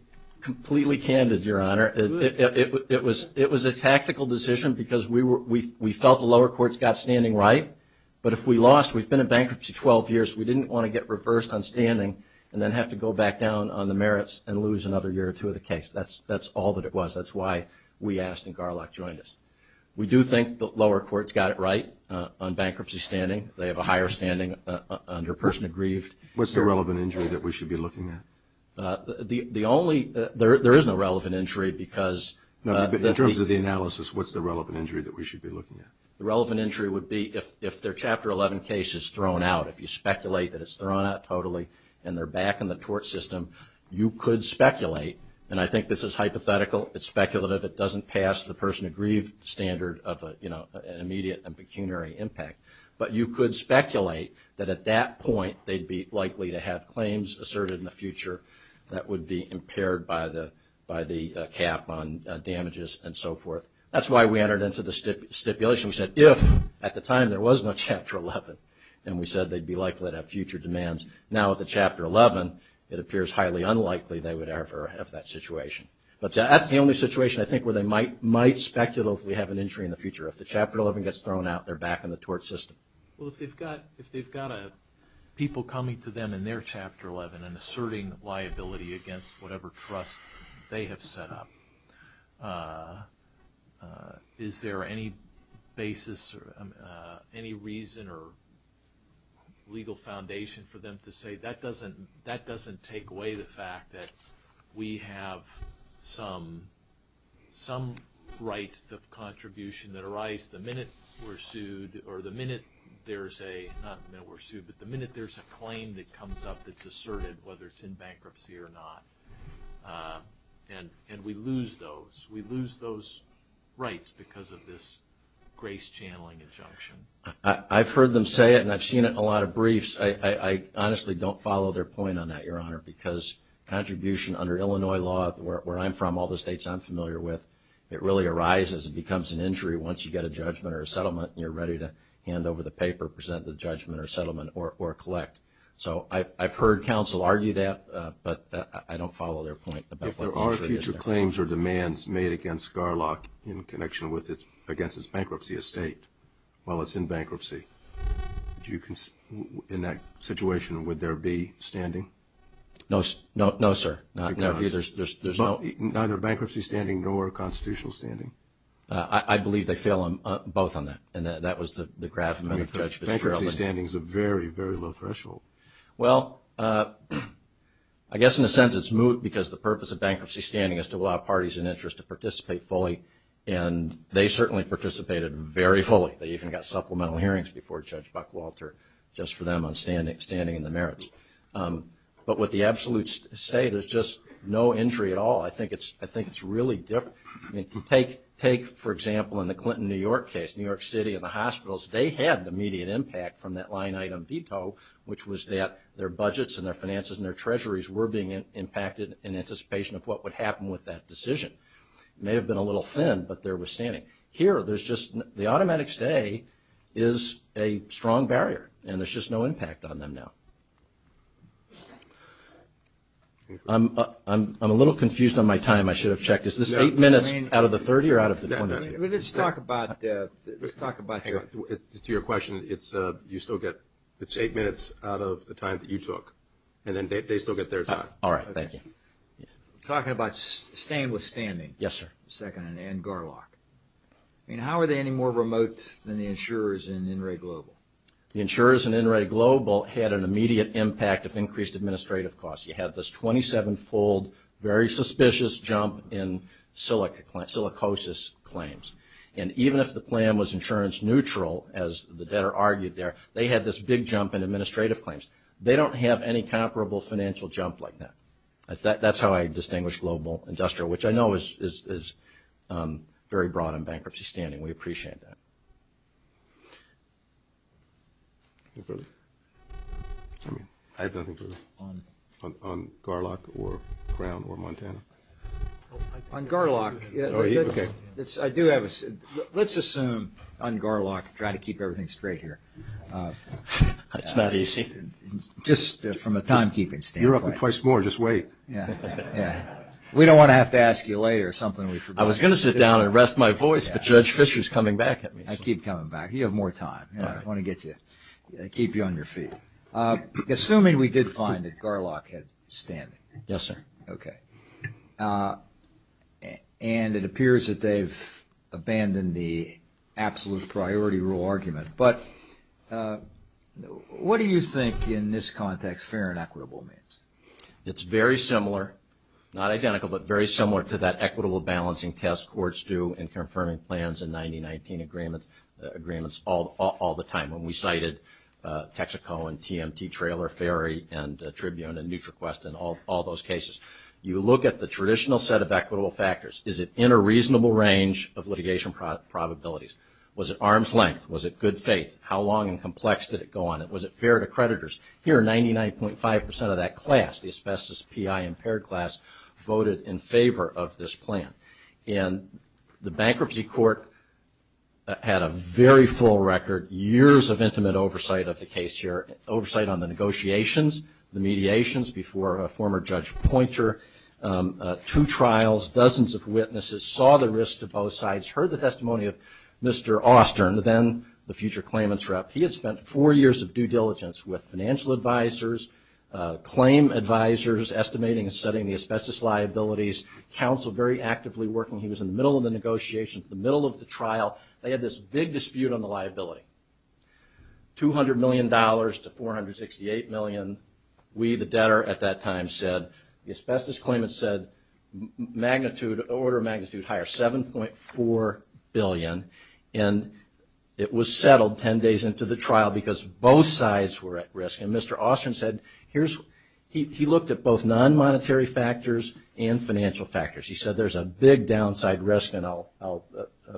completely candid, Your Honor. It was a tactical decision because we felt the lower courts got standing right, but if we lost, we've been in bankruptcy 12 years, we didn't want to get reversed on standing and then have to go back down on the merits and lose another year or two of the case. That's all that it was. That's why we asked and Garlock joined us. We do think the lower courts got it right on bankruptcy standing. They have a higher standing under person aggrieved. What's the relevant injury that we should be looking at? The only – there is no relevant injury because – In terms of the analysis, what's the relevant injury that we should be looking at? The relevant injury would be if their Chapter 11 case is thrown out, if you speculate that it's thrown out totally and they're back in the tort system, you could speculate, and I think this is hypothetical. It's speculative. It doesn't pass the person aggrieved standard of an immediate and pecuniary impact, but you could speculate that at that point they'd be likely to have claims asserted in the future that would be impaired by the cap on damages and so forth. That's why we entered into the stipulation. We said if at the time there was no Chapter 11 and we said they'd be likely to have future demands, now with the Chapter 11 it appears highly unlikely they would ever have that situation. But that's the only situation I think where they might speculate if we have an injury in the future. If the Chapter 11 gets thrown out, they're back in the tort system. Well, if they've got people coming to them in their Chapter 11 and asserting liability against whatever trust they have set up, is there any basis or any reason or legal foundation for them to say, that doesn't take away the fact that we have some right to contribution that arise the minute we're sued or the minute there's a claim that comes up that's asserted, whether it's in bankruptcy or not, and we lose those rights because of this grace channeling injunction? I've heard them say it and I've seen it in a lot of briefs. I honestly don't follow their point on that, Your Honor, because contribution under Illinois law, where I'm from, all the states I'm familiar with, it really arises and becomes an injury once you get a judgment or a settlement and you're ready to hand over the paper, present the judgment or settlement or collect. So I've heard counsel argue that, but I don't follow their point. If there are future claims or demands made against Scarlock in connection against his bankruptcy estate, while it's in bankruptcy, in that situation, would there be standing? No, sir. Neither bankruptcy standing nor constitutional standing? I believe they fail on both on that, and that was the graph. Bankruptcy standing is a very, very low threshold. Well, I guess in a sense it's moot because the purpose of bankruptcy standing is to allow parties in interest to participate fully, and they certainly participated very fully. They even got supplemental hearings before Judge Buckwalter just for them standing in the merits. But what the absolutes say, there's just no injury at all. I think it's really different. Take, for example, in the Clinton New York case, New York City and the hospitals, they had the immediate impact from that line item veto, which was that their budgets and their finances and their treasuries were being impacted in anticipation of what would happen with that decision. It may have been a little thin, but there was standing. Here, there's just the automatic stay is a strong barrier, and there's just no impact on them now. I'm a little confused on my time. I should have checked. Is this eight minutes out of the 30 or out of the 20? Let's talk about, to your question, it's eight minutes out of the time that you took, and then they still get their time. All right. Thank you. Talking about staying with standing. Yes, sir. Second, Ann Garlock. How are they any more remote than the insurers in InReGlobal? The insurers in InReGlobal had an immediate impact of increased administrative costs. You have this 27-fold, very suspicious jump in silicosis claims. And even if the plan was insurance neutral, as the debtor argued there, they had this big jump in administrative claims. They don't have any comparable financial jump like that. That's how I distinguish global industrial, which I know is very broad in bankruptcy standing. We appreciate that. I don't think it was on Garlock or Brown or Montana. On Garlock, let's assume on Garlock, try to keep everything straight here. It's not easy. Just from a timekeeping standpoint. You're up to twice more. Just wait. We don't want to have to ask you later something we forgot. I was going to sit down and rest my voice, but Judge Fischer is coming back at me. I keep coming back. You have more time. I want to get you, keep you on your feet. Assuming we did find that Garlock had standing. Yes, sir. Okay. And it appears that they've abandoned the absolute priority rule argument. But what do you think in this context fair and equitable means? It's very similar, not identical, but very similar to that equitable balancing test courts do and confirming plans in 90-19 agreements all the time. When we cited Texaco and TMT Trailer, Ferry and Tribune and NutriQuest and all those cases. You look at the traditional set of equitable factors. Is it in a reasonable range of litigation probabilities? Was it arm's length? Was it good faith? How long and complex did it go on? Was it fair to creditors? Here, 99.5% of that class, the asbestos PI impaired class, voted in favor of this plan. And the bankruptcy court had a very full record, years of intimate oversight of the case here, oversight on the negotiations, the mediations before a former Judge Poynter, two trials, dozens of witnesses saw the risks of both sides, heard the testimony of Mr. Austern, then the future claimants rep. He has spent four years of due diligence with financial advisors, claim advisors, estimating and setting the asbestos liabilities, counsel very actively working. He was in the middle of the negotiations, the middle of the trial. They had this big dispute on the liability, $200 million to $468 million. We, the debtor, at that time said, the asbestos claimants said magnitude, order of magnitude higher, $7.4 billion. And it was settled 10 days into the trial because both sides were at risk. And Mr. Austern said, here's, he looked at both non-monetary factors and financial factors. He said there's a big downside risk and I'll,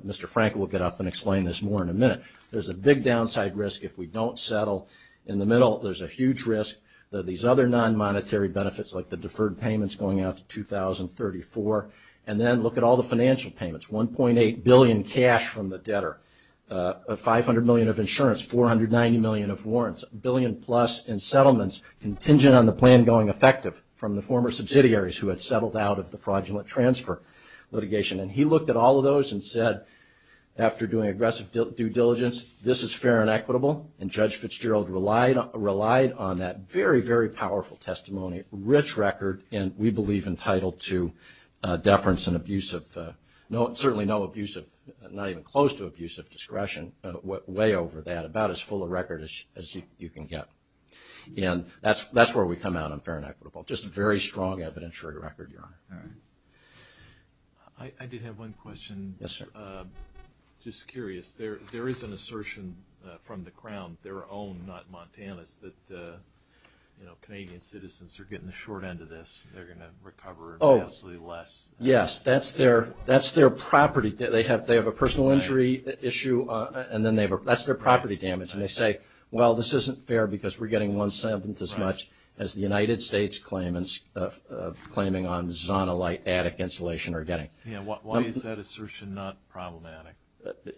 Mr. Frank will get up and explain this more in a minute. There's a big downside risk if we don't settle. In the middle, there's a huge risk that these other non-monetary benefits like the deferred payments going out to 2034 and then look at all the financial payments, $1.8 billion cash from the debtor, $500 million of insurance, $490 million of warrants, $1 billion plus in settlements contingent on the plan going effective from the former subsidiaries who had settled out of the fraudulent transfer litigation. And he looked at all of those and said, after doing aggressive due diligence, this is fair and equitable. And Judge Fitzgerald relied on that very, very powerful testimony, rich record, and we believe entitled to deference and abusive, certainly no abusive, not even close to abusive discretion, way over that, about as full a record as you can get. And that's where we come out on fair and equitable, just a very strong evidentiary record, Your Honor. I did have one question. Yes, sir. Just curious. There is an assertion from the Crown, their own, not Montana's, that, you know, Canadian citizens are getting the short end of this. They're going to recover vastly less. Yes, that's their property. They have a personal injury issue, and that's their property damage. And they say, well, this isn't fair because we're getting one-seventh as much as the United States claimants claiming on zonal attic insulation are getting. Yeah, why is that assertion not problematic?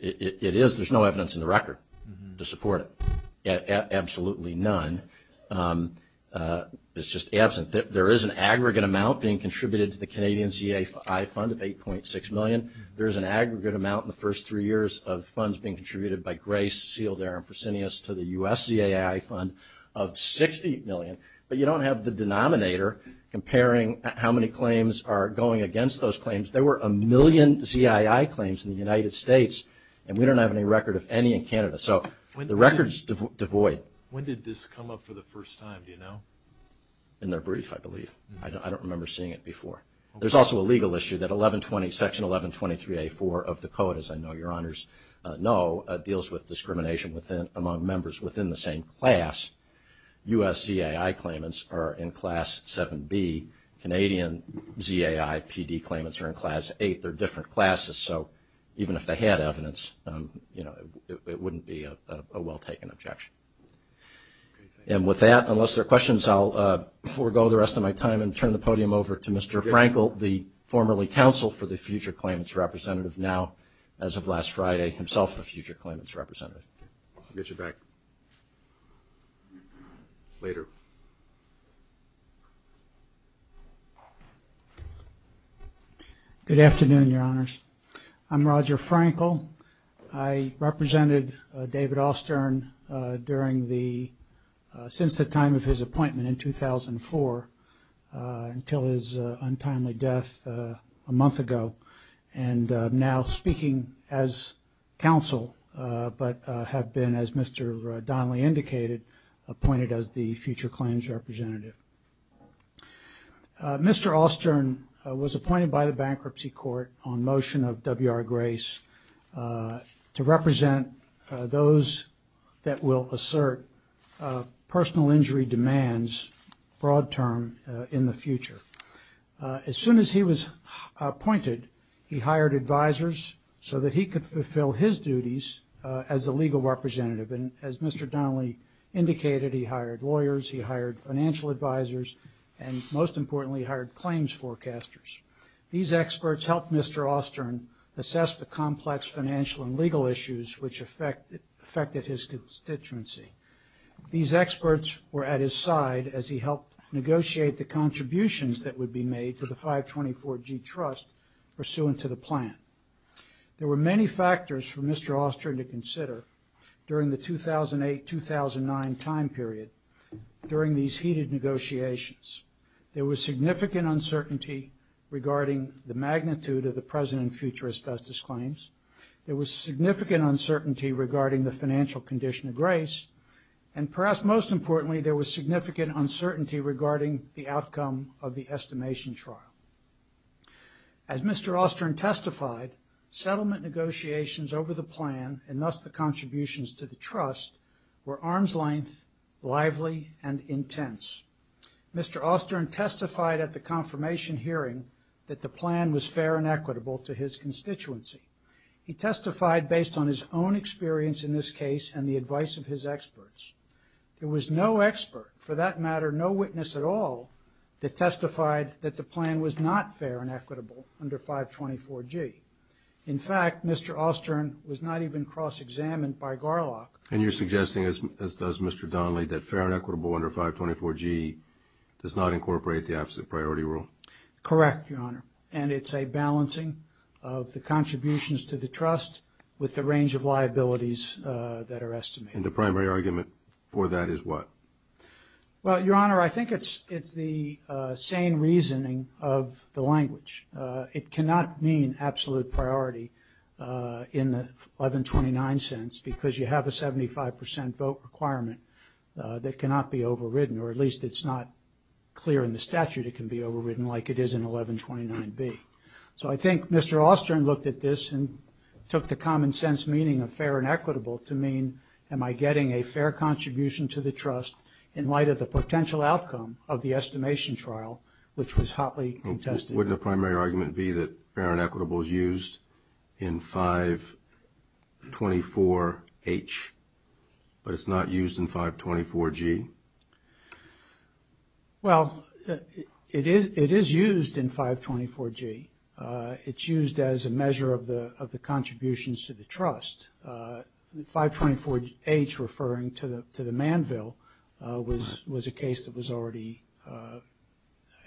It is. There's no evidence in the record to support it. Absolutely none. It's just absent. There is an aggregate amount being contributed to the Canadian CII Fund of $8.6 million. There is an aggregate amount in the first three years of funds being contributed by Grace, Sealdair, and Fresenius to the U.S. CII Fund of $60 million. But you don't have the denominator comparing how many claims are going against those claims. There were a million CII claims in the United States, and we don't have any record of any in Canada. So the record is devoid. When did this come up for the first time, do you know? In their brief, I believe. I don't remember seeing it before. There's also a legal issue that 1120, Section 1123A4 of the Code, as I know your honors know, deals with discrimination among members within the same class. U.S. CII claimants are in Class 7B. Canadian ZAI PD claimants are in Class 8. They're different classes, so even if they had evidence, you know, it wouldn't be a well-taken objection. And with that, unless there are questions, I'll forego the rest of my time and turn the podium over to Mr. Frankel, the formerly counsel for the Future Claims Representative, now, as of last Friday, himself a Future Claims Representative. I'll get you back later. Good afternoon, your honors. I'm Roger Frankel. I represented David Allstern during the – since the time of his appointment in 2004 until his untimely death a month ago, and now speaking as counsel, but have been, as Mr. Donnelly indicated, appointed as the Future Claims Representative. Mr. Allstern was appointed by the Bankruptcy Court on motion of W.R. Grace to represent those that will assert personal injury demands, broad term, in the future. As soon as he was appointed, he hired advisors so that he could fulfill his duties as a legal representative. And as Mr. Donnelly indicated, he hired lawyers, he hired financial advisors, and most importantly, hired claims forecasters. These experts helped Mr. Allstern assess the complex financial and legal issues which affected his constituency. These experts were at his side as he helped negotiate the contributions that would be made to the 524G Trust pursuant to the plan. There were many factors for Mr. Allstern to consider during the 2008-2009 time period during these heated negotiations. There was significant uncertainty regarding the magnitude of the present and future as justice claims. There was significant uncertainty regarding the financial condition of Grace. And perhaps most importantly, there was significant uncertainty regarding the outcome of the estimation trial. As Mr. Allstern testified, settlement negotiations over the plan, and thus the contributions to the Trust, were arm's length, lively, and intense. Mr. Allstern testified at the confirmation hearing that the plan was fair and equitable to his constituency. He testified based on his own experience in this case and the advice of his experts. There was no expert, for that matter, no witness at all, that testified that the plan was not fair and equitable under 524G. In fact, Mr. Allstern was not even cross-examined by Garlock. And you're suggesting, as does Mr. Donnelly, that fair and equitable under 524G does not incorporate the absolute priority rule? Correct, Your Honor. And it's a balancing of the contributions to the Trust with the range of liabilities that are estimated. And the primary argument for that is what? Well, Your Honor, I think it's the sane reasoning of the language. It cannot mean absolute priority in the 1129 sense, because you have a 75% vote requirement that cannot be overridden, or at least it's not clear in the statute it can be overridden like it is in 1129B. So I think Mr. Allstern looked at this and took the common sense meaning of fair and equitable to mean, am I getting a fair contribution to the Trust in light of the potential outcome of the estimation trial, which was hotly contested? Wouldn't the primary argument be that fair and equitable is used in 524H, but it's not used in 524G? Well, it is used in 524G. It's used as a measure of the contributions to the Trust. 524H, referring to the manville, was a case that was already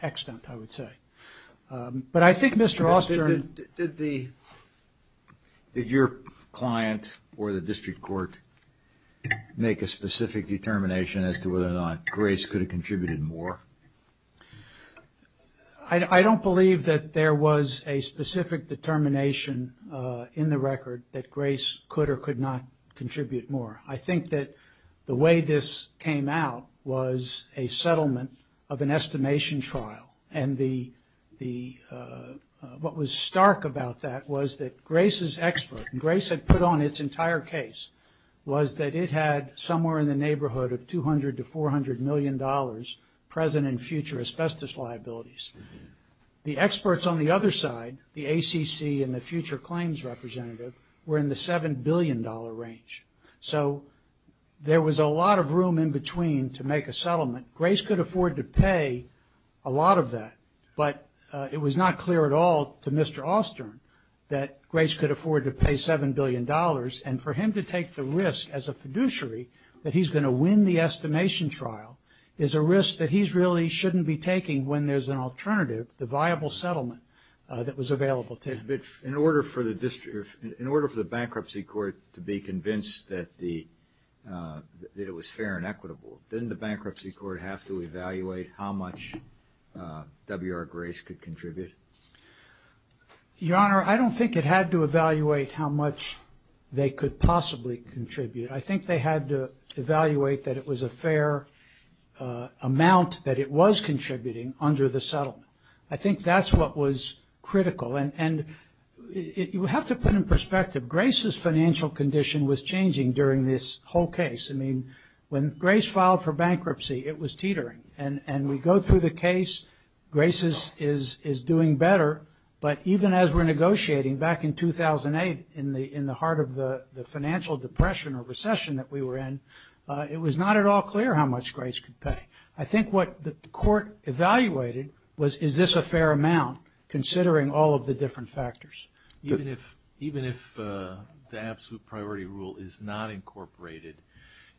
extant, I would say. But I think Mr. Allstern... Did your client or the district court make a specific determination as to whether or not Grace could have contributed more? I don't believe that there was a specific determination in the record that Grace could or could not contribute more. I think that the way this came out was a settlement of an estimation trial. And what was stark about that was that Grace's expert, and Grace had put on its entire case, was that it had somewhere in the neighborhood of $200 to $400 million present and future asbestos liabilities. The experts on the other side, the ACC and the future claims representative, were in the $7 billion range. So there was a lot of room in between to make a settlement. Grace could afford to pay a lot of that, but it was not clear at all to Mr. Allstern that Grace could afford to pay $7 billion. And for him to take the risk as a fiduciary that he's going to win the estimation trial is a risk that he really shouldn't be taking when there's an alternative, the viable settlement that was available to him. In order for the bankruptcy court to be convinced that it was fair and equitable, didn't the bankruptcy court have to evaluate how much W.R. Grace could contribute? Your Honor, I don't think it had to evaluate how much they could possibly contribute. I think they had to evaluate that it was a fair amount that it was contributing under the settlement. I think that's what was critical. And you have to put in perspective Grace's financial condition was changing during this whole case. I mean, when Grace filed for bankruptcy, it was teetering. And we go through the case, Grace is doing better. But even as we're negotiating back in 2008 in the heart of the financial depression or recession that we were in, it was not at all clear how much Grace could pay. I think what the court evaluated was is this a fair amount considering all of the different factors. Even if the absolute priority rule is not incorporated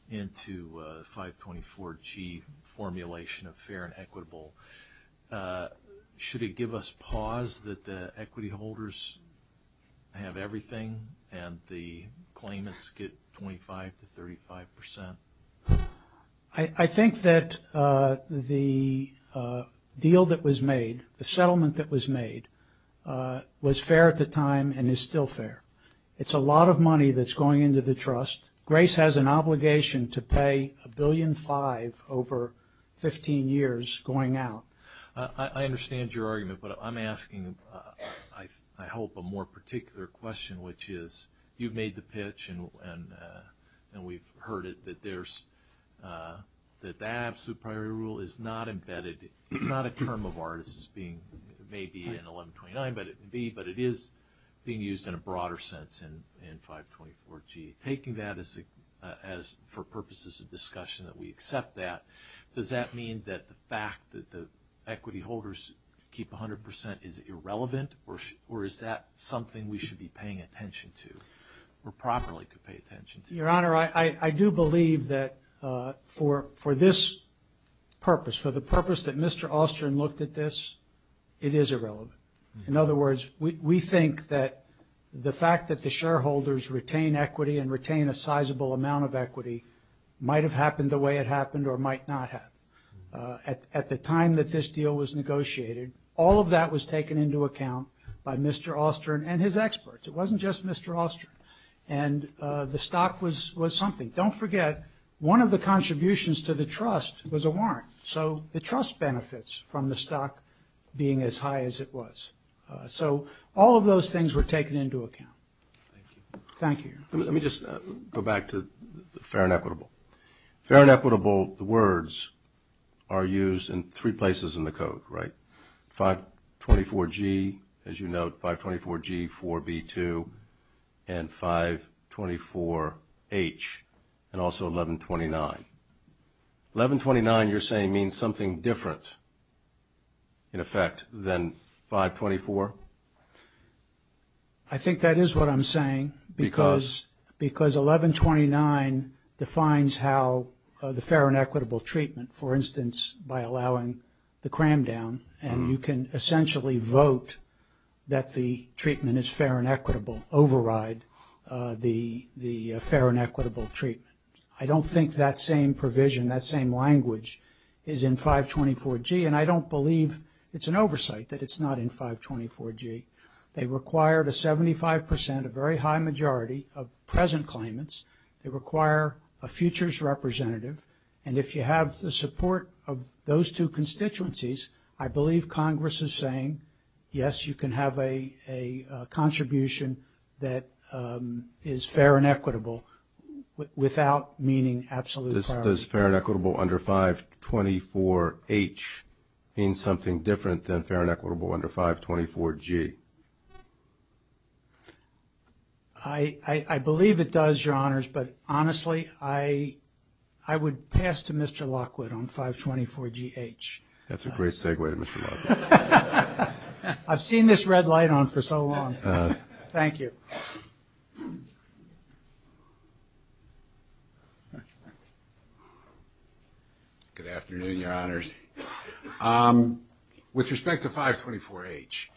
into 524G formulation of fair and equitable, should it give us pause that the equity holders have everything and the claimants get 25 to 35 percent? I think that the deal that was made, the settlement that was made, was fair at the time and is still fair. It's a lot of money that's going into the trust. Grace has an obligation to pay $1.5 billion over 15 years going out. I understand your argument, but I'm asking, I hope, a more particular question, which is you've made the pitch and we've heard it, that the absolute priority rule is not embedded. It's not a term of ours. It may be in 1129, but it is being used in a broader sense in 524G. Taking that as for purposes of discussion that we accept that, does that mean that the fact that the equity holders keep 100 percent is irrelevant, or is that something we should be paying attention to or properly could pay attention to? Your Honor, I do believe that for this purpose, for the purpose that Mr. Austin looked at this, it is irrelevant. In other words, we think that the fact that the shareholders retain equity and retain a sizable amount of equity might have happened the way it happened or might not have. At the time that this deal was negotiated, all of that was taken into account by Mr. Austin and his experts. It wasn't just Mr. Austin. And the stock was something. Don't forget, one of the contributions to the trust was a warrant. So the trust benefits from the stock being as high as it was. So all of those things were taken into account. Thank you. Let me just go back to the fair and equitable. Fair and equitable words are used in three places in the Code, right? 524G, as you note, 524G, 4B2, and 524H, and also 1129. 1129, you're saying, means something different, in effect, than 524? I think that is what I'm saying because 1129 defines how the fair and equitable treatment, for instance, by allowing the cram down, and you can essentially vote that the treatment is fair and equitable, override the fair and equitable treatment. I don't think that same provision, that same language, is in 524G, and I don't believe it's an oversight that it's not in 524G. They require a 75 percent, a very high majority, of present claimants. They require a futures representative. And if you have the support of those two constituencies, I believe Congress is saying, yes, you can have a contribution that is fair and equitable without meaning absolute clarity. How does fair and equitable under 524H mean something different than fair and equitable under 524G? I believe it does, Your Honors, but honestly, I would pass to Mr. Lockwood on 524GH. That's a great segue to Mr. Lockwood. I've seen this red light on for so long. Thank you. Good afternoon, Your Honors. With respect to 524H,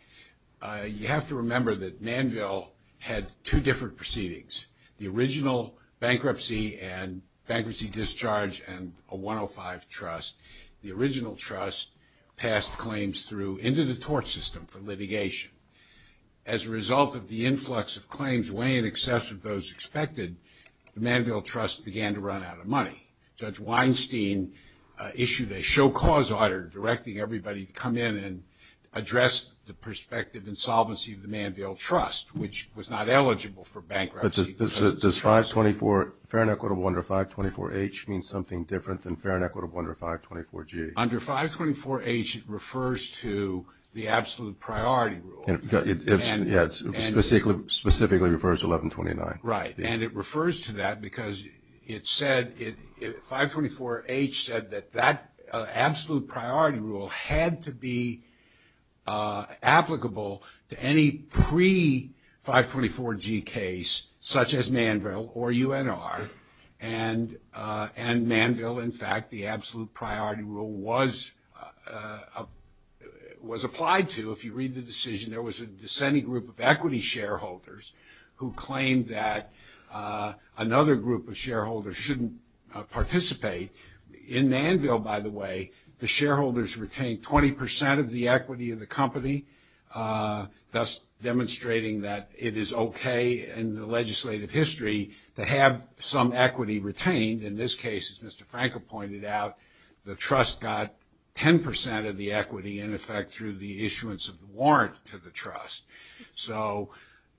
you have to remember that Manville had two different proceedings, the original bankruptcy and bankruptcy discharge and a 105 trust. The original trust passed claims through into the tort system for litigation. As a result of the influx of claims way in excess of those expected, the Manville Trust began to run out of money. Judge Weinstein issued a show cause order directing everybody to come in and address the perspective and solvency of the Manville Trust, which was not eligible for bankruptcy. But does 524, fair and equitable under 524H, mean something different than fair and equitable under 524G? Under 524H, it refers to the absolute priority rule. It specifically refers to 1129. Right. And it refers to that because it said 524H said that that absolute priority rule had to be applicable to any pre-524G case, such as Manville or UNR. And Manville, in fact, the absolute priority rule was applied to. If you read the decision, there was a dissenting group of equity shareholders who claimed that another group of shareholders shouldn't participate. In Manville, by the way, the shareholders retained 20% of the equity of the company, thus demonstrating that it is okay in the legislative history to have some equity retained. In this case, as Mr. Frankel pointed out, the trust got 10% of the equity, in effect, through the issuance of the warrant to the trust. So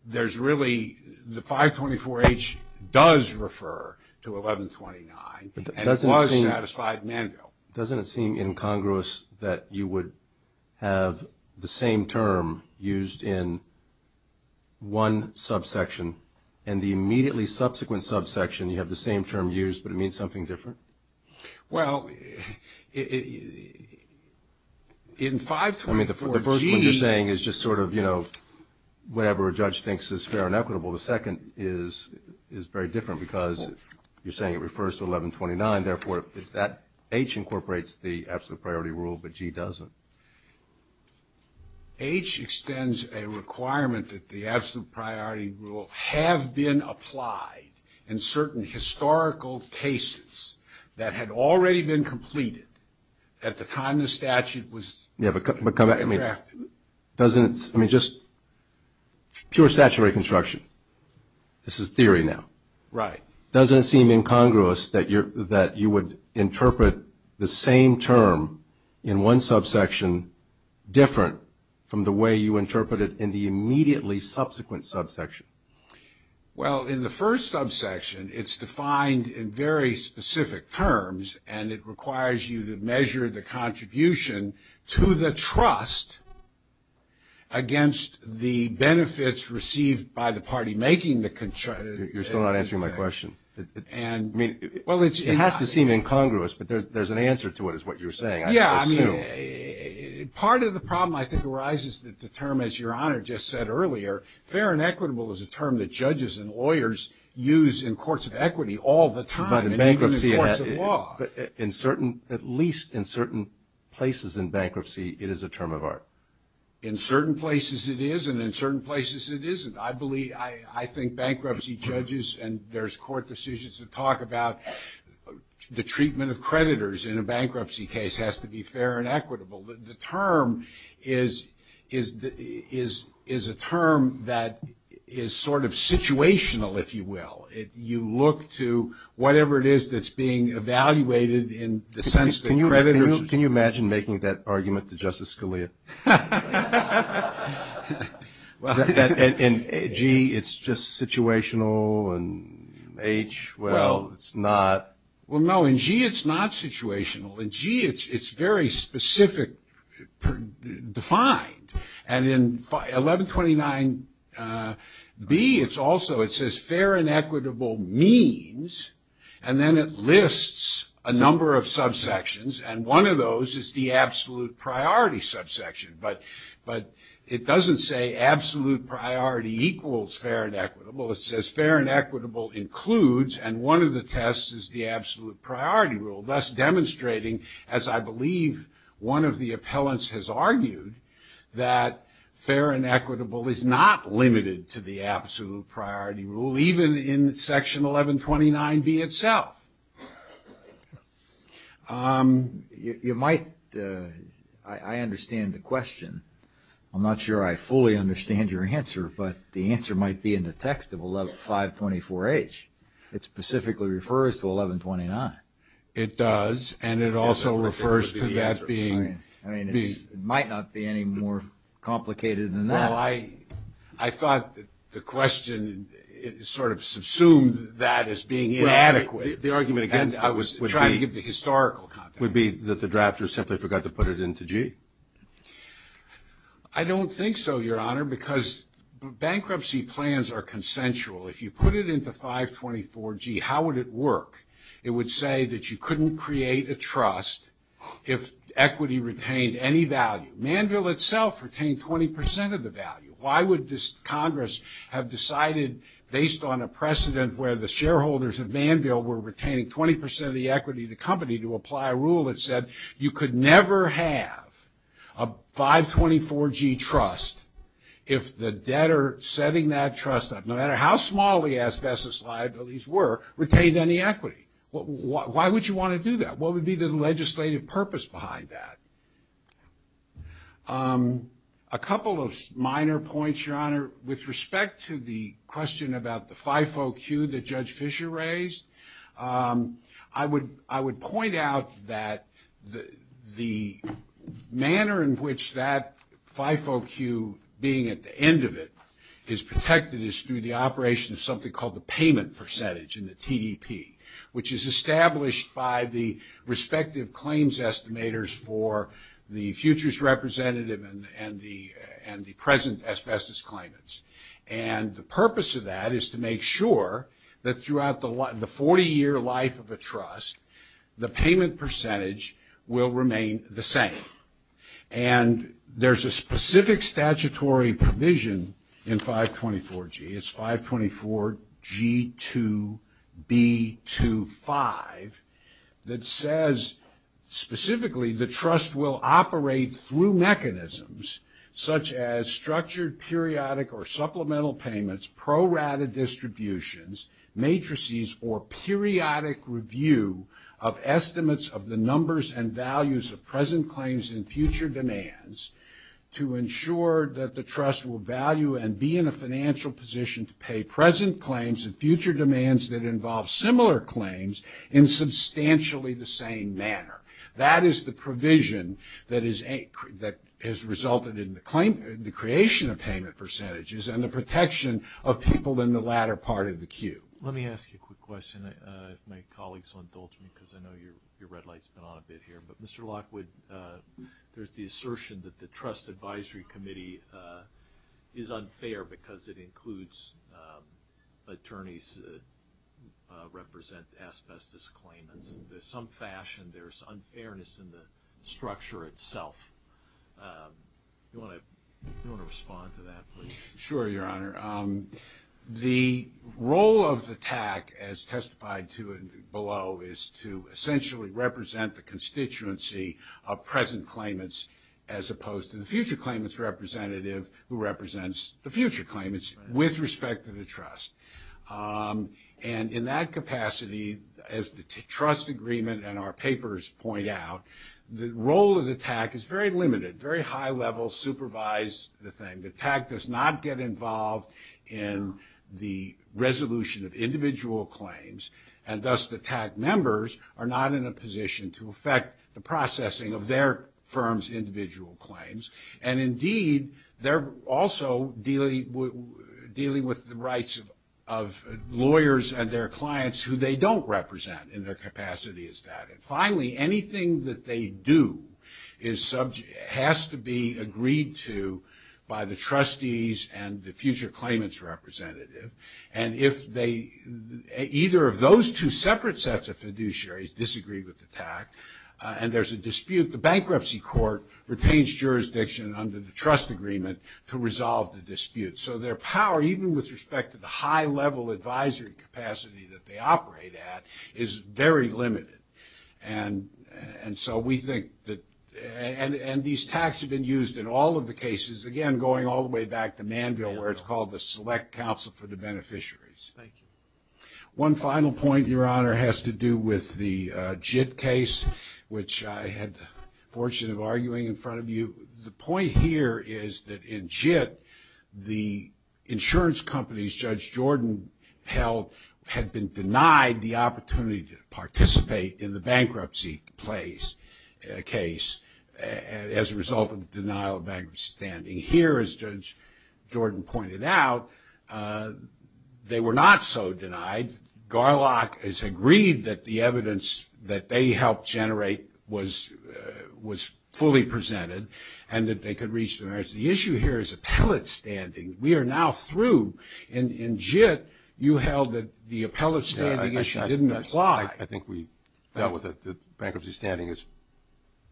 there's really the 524H does refer to 1129 and was satisfied in Manville. Doesn't it seem incongruous that you would have the same term used in one subsection and the immediately subsequent subsection you have the same term used, but it means something different? Well, in 524G – I mean, the first one you're saying is just sort of, you know, whatever a judge thinks is fair and equitable. The second is very different because you're saying it refers to 1129. 1129, therefore, is that H incorporates the absolute priority rule, but G doesn't. H extends a requirement that the absolute priority rule have been applied in certain historical cases that had already been completed at the time the statute was drafted. I mean, just pure statutory construction. This is theory now. Right. Doesn't it seem incongruous that you would interpret the same term in one subsection different from the way you interpret it in the immediately subsequent subsection? Well, in the first subsection, it's defined in very specific terms, and it requires you to measure the contribution to the trust against the benefits received by the party making the – You're still not answering my question. I mean, it has to seem incongruous, but there's an answer to it is what you're saying. Yeah, I mean, part of the problem, I think, arises that the term, as Your Honor just said earlier, fair and equitable is a term that judges and lawyers use in courts of equity all the time, including courts of law. But in bankruptcy, at least in certain places in bankruptcy, it is a term of art. In certain places, it is, and in certain places, it isn't. I believe – I think bankruptcy judges and there's court decisions that talk about the treatment of creditors in a bankruptcy case has to be fair and equitable. The term is a term that is sort of situational, if you will. If you look to whatever it is that's being evaluated in the sense that creditors – Can you imagine making that argument to Justice Scalia? In G, it's just situational, and H, well, it's not. Well, no, in G, it's not situational. In G, it's very specific, defined. And in 1129B, it's also – it says fair and equitable means, and then it lists a number of subsections, and one of those is the absolute priority subsection. But it doesn't say absolute priority equals fair and equitable. It says fair and equitable includes, and one of the tests is the absolute priority rule, thus demonstrating, as I believe one of the appellants has argued, that fair and equitable is not limited to the absolute priority rule, even in Section 1129B itself. You might – I understand the question. I'm not sure I fully understand your answer, but the answer might be in the text of 524H. It specifically refers to 1129. I mean, it might not be any more complicated than that. Well, I thought the question sort of subsumed that as being inadequate. The argument, again, I was trying to give the historical context. Would it be that the drafter simply forgot to put it into G? I don't think so, Your Honor, because bankruptcy plans are consensual. If you put it into 524G, how would it work? It would say that you couldn't create a trust if equity retained any value. Manville itself retained 20% of the value. Why would Congress have decided, based on a precedent where the shareholders of Manville were retaining 20% of the equity of the company, to apply a rule that said you could never have a 524G trust if the debtor setting that trust up, no matter how small the asbestos liabilities were, retained any equity? Why would you want to do that? What would be the legislative purpose behind that? A couple of minor points, Your Honor. With respect to the question about the FIFOQ that Judge Fischer raised, I would point out that the manner in which that FIFOQ, being at the end of it, is protected is through the operation of something called the payment percentage in the TEP, which is established by the respective claims estimators for the futures representative and the present asbestos claimants. And the purpose of that is to make sure that throughout the 40-year life of a trust, the payment percentage will remain the same. And there's a specific statutory provision in 524G, it's 524G2B25, that says specifically the trust will operate through mechanisms such as structured, periodic, or supplemental payments, prorouted distributions, matrices, or periodic review of estimates of the numbers and values of present claims and future demands to ensure that the trust will value and be in a financial position to pay present claims and future demands that involve similar claims in substantially the same manner. That is the provision that has resulted in the creation of payment percentages and the protection of people in the latter part of the queue. Let me ask you a quick question. If my colleagues will indulge me, because I know your red light's been on a bit here. But, Mr. Lockwood, there's the assertion that the trust advisory committee is unfair because it includes attorneys that represent asbestos claimants. In some fashion, there's unfairness in the structure itself. Do you want to respond to that, please? Sure, Your Honor. The role of the TAC, as testified to below, is to essentially represent the constituency of present claimants as opposed to the future claimants representative who represents the future claimants with respect to the trust. And in that capacity, as the trust agreement and our papers point out, the role of the TAC is very limited, very high level, supervised. The TAC does not get involved in the resolution of individual claims, and thus the TAC members are not in a position to affect the processing of their firm's individual claims. And indeed, they're also dealing with the rights of lawyers and their clients who they don't represent in their capacity as that. And finally, anything that they do has to be agreed to by the trustees and the future claimants representative. And if either of those two separate sets of fiduciaries disagree with the TAC and there's a dispute, the bankruptcy court retains jurisdiction under the trust agreement to resolve the dispute. So their power, even with respect to the high level advisory capacity that they operate at, is very limited. And so we think that these TACs have been used in all of the cases, again, going all the way back to Manville where it's called the Select Council for the Beneficiaries. One final point, Your Honor, has to do with the JIT case, which I had the fortune of arguing in front of you. The point here is that in JIT, the insurance companies Judge Jordan held had been denied the opportunity to participate in the bankruptcy case as a result of the denial of bankruptcy standing. Here, as Judge Jordan pointed out, they were not so denied. Garlock has agreed that the evidence that they helped generate was fully presented and that they could reach the merits. The issue here is appellate standing. We are now through. In JIT, you held that the appellate standing issue didn't apply. I think we dealt with it. The bankruptcy standing is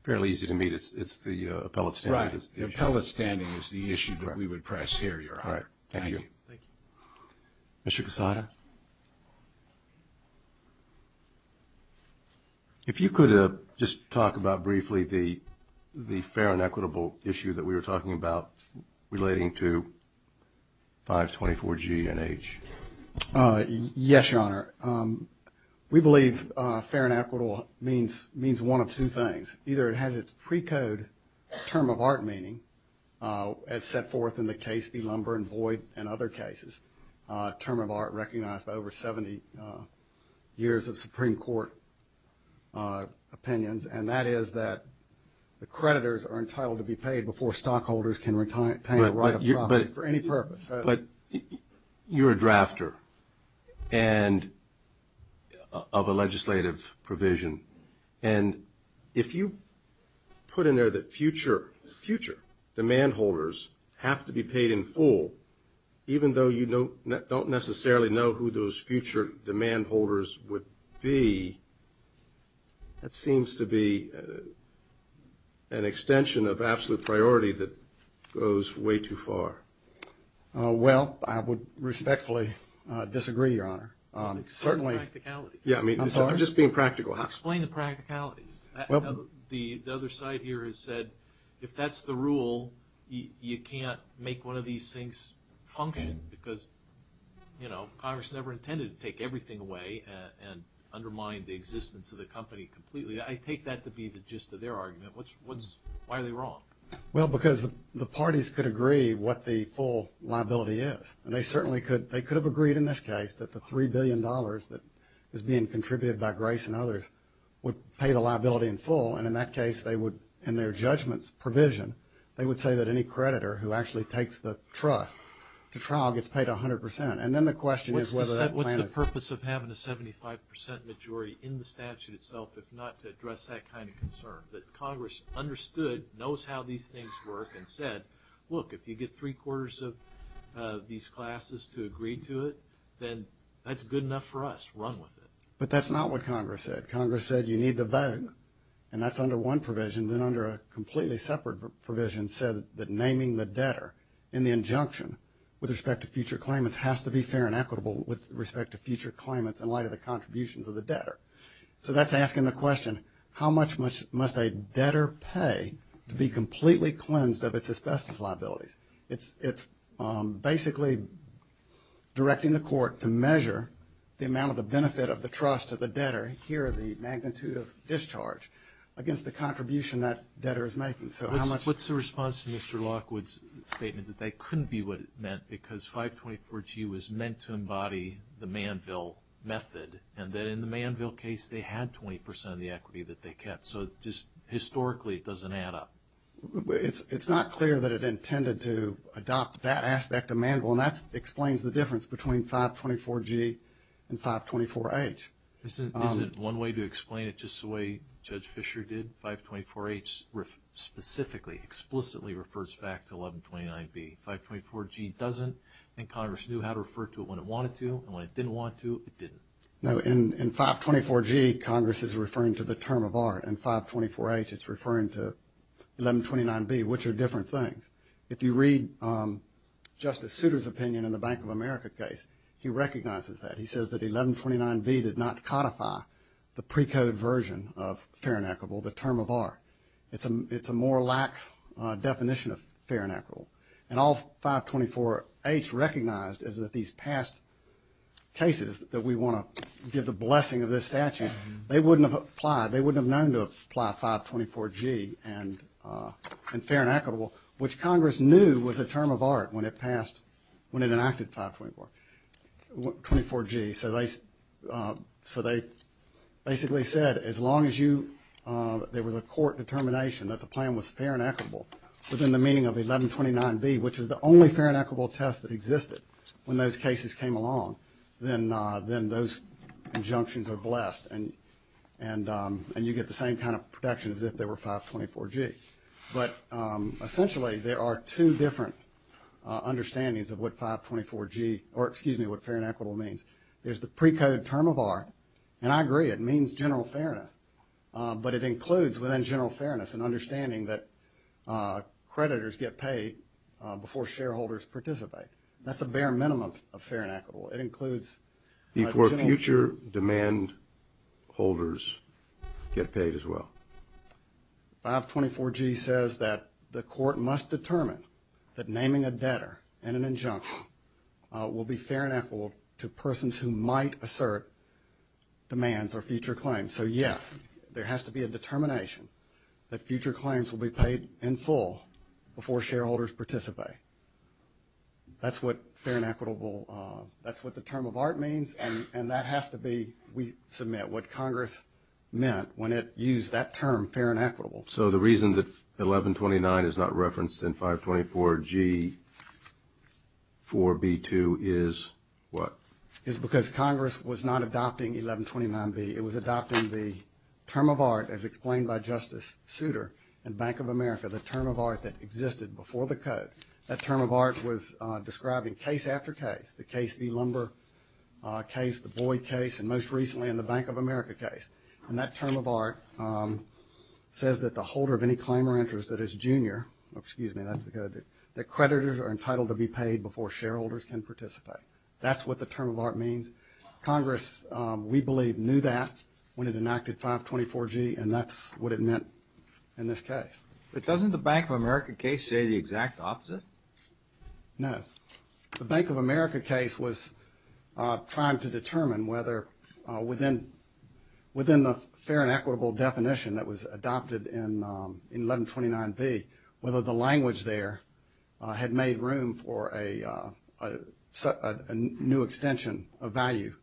fairly easy to meet. It's the appellate standing that's the issue. Right. The appellate standing is the issue that we would prioritize. All right. Thank you. Thank you. Mr. Casada? If you could just talk about briefly the fair and equitable issue that we were talking about relating to 524G and H. Yes, Your Honor. We believe fair and equitable means one of two things. Either it has its precode term of art meaning, as set forth in the case v. Lumber and Voight and other cases, term of art recognized over 70 years of Supreme Court opinions, and that is that the creditors are entitled to be paid before stockholders can retain a right of property for any purpose. But you're a drafter of a legislative provision, and if you put in there that future demand holders have to be paid in full, even though you don't necessarily know who those future demand holders would be, that seems to be an extension of absolute priority that goes way too far. Well, I would respectfully disagree, Your Honor. Certainly. I'm sorry? I'm just being practical. Explain the practicalities. The other side here has said if that's the rule, you can't make one of these things function because Congress never intended to take everything away and undermine the existence of the company completely. I take that to be the gist of their argument. Why are they wrong? Well, because the parties could agree what the full liability is, and they certainly could have agreed in this case that the $3 billion that is being contributed by Grace and others would pay the liability in full, and in that case, in their judgment's provision, they would say that any creditor who actually takes the trust to trial gets paid 100 percent, and then the question is whether that plan is true. What's the purpose of having a 75 percent majority in the statute itself if not to address that kind of concern, that Congress understood, knows how these things work, and said, look, if you get three-quarters of these classes to agree to it, then that's good enough for us. Run with it. But that's not what Congress said. Congress said you need to vote, and that's under one provision. Then under a completely separate provision said that naming the debtor in the injunction with respect to future claimants has to be fair and equitable with respect to future claimants in light of the contributions of the debtor. So that's asking the question, how much must a debtor pay to be completely cleansed of its asbestos liability? It's basically directing the court to measure the amount of the benefit of the trust of the debtor, here the magnitude of discharge, against the contribution that debtor is making. What's the response to Mr. Lockwood's statement that that couldn't be what it meant because 524G was meant to embody the Manville method, and that in the Manville case, they had 20 percent of the equity that they kept, so just historically it doesn't add up? It's not clear that it intended to adopt that aspect of Manville, and that explains the difference between 524G and 524H. Isn't one way to explain it just the way Judge Fisher did? 524H specifically, explicitly refers back to 1129B. 524G doesn't, and Congress knew how to refer to it when it wanted to, and when it didn't want to, it didn't. No, in 524G, Congress is referring to the term of art. In 524H, it's referring to 1129B, which are different things. If you read Justice Souter's opinion in the Bank of America case, he recognizes that. He says that 1129B did not codify the precoded version of fair and equitable, the term of art. It's a more lax definition of fair and equitable, and all 524H recognized is that these past cases that we want to give the blessing of this statute, they wouldn't have applied, they wouldn't have known to apply 524G and fair and equitable, which Congress knew was a term of art when it passed, when it enacted 524G. So they basically said as long as you, there was a court determination that the plan was fair and equitable, within the meaning of 1129B, which is the only fair and equitable test that existed when those cases came along, then those injunctions are blessed and you get the same kind of protection as if there were 524G. But essentially, there are two different understandings of what 524G, or excuse me, what fair and equitable means. There's the precoded term of art, and I agree, it means general fairness, but it includes within general fairness an understanding that creditors get paid before shareholders participate. That's a bare minimum of fair and equitable. It includes before future demand holders get paid as well. 524G says that the court must determine that naming a debtor in an injunction will be fair and equitable to persons who might assert demands or future claims. So yes, there has to be a determination that future claims will be paid in full before shareholders participate. That's what fair and equitable, that's what the term of art means, and that has to be, we submit, what Congress meant when it used that term, fair and equitable. So the reason that 1129 is not referenced in 524G for B2 is what? Is because Congress was not adopting 1129B. It was adopting the term of art as explained by Justice Souter in Bank of America, the term of art that existed before the code. That term of art was described in case after case, the case B, lumber case, the Boyd case, and most recently in the Bank of America case. And that term of art says that the holder of any claim or interest that is junior, excuse me, that's the code, that creditors are entitled to be paid before shareholders can participate. That's what the term of art means. Congress, we believe, knew that when it enacted 524G, and that's what it meant in this case. But doesn't the Bank of America case say the exact opposite? No. The Bank of America case was trying to determine whether within the fair and equitable definition that was adopted in 1129B, whether the language there had made room for a new extension of value,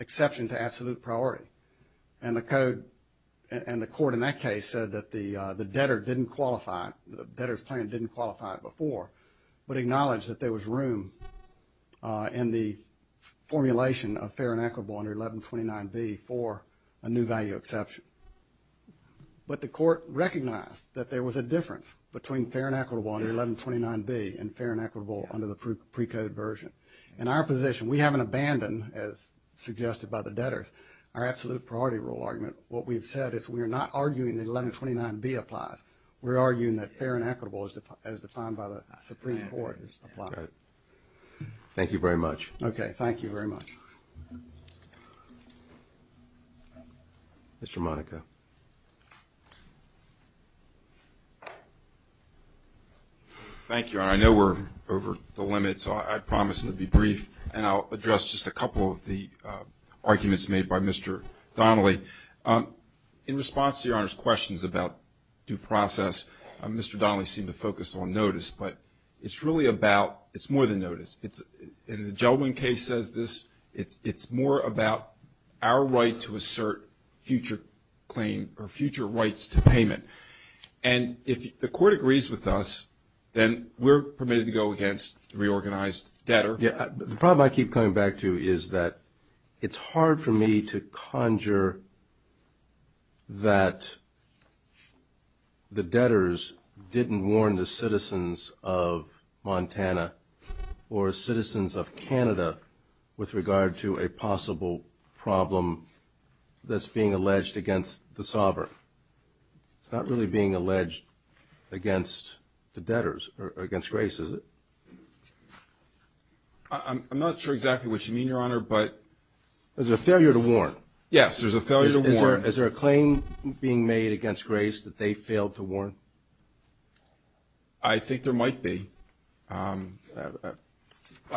exception to absolute priority. And the code and the court in that case said that the debtor didn't qualify, the debtor's claim didn't qualify before, but acknowledged that there was room in the formulation of fair and equitable under 1129B for a new value exception. But the court recognized that there was a difference between fair and equitable under 1129B and fair and equitable under the precode version. In our position, we haven't abandoned, as suggested by the debtors, our absolute priority rule argument. What we've said is we're not arguing that 1129B applies. We're arguing that fair and equitable, as defined by the Supreme Court, applies. Thank you very much. Okay. Thank you very much. Mr. Monaco. Thank you, Your Honor. I know we're over the limit, so I promise to be brief, and I'll address just a couple of the arguments made by Mr. Donnelly. In response to Your Honor's questions about due process, Mr. Donnelly seemed to focus on notice, but it's really about, it's more than notice. In the Gell-Mann case, it's more about our right to assert future claim or future rights to payment. And if the court agrees with us, then we're permitted to go against reorganized debt. Yeah. The problem I keep coming back to is that it's hard for me to conjure that the debtors didn't warn the citizens of Montana or citizens of Canada with regard to a possible problem that's being alleged against the sovereign. It's not really being alleged against the debtors or against Grace, is it? I'm not sure exactly what you mean, Your Honor, but – There's a failure to warn. Yes, there's a failure to warn. Is there a claim being made against Grace that they failed to warn? I think there might be. I'm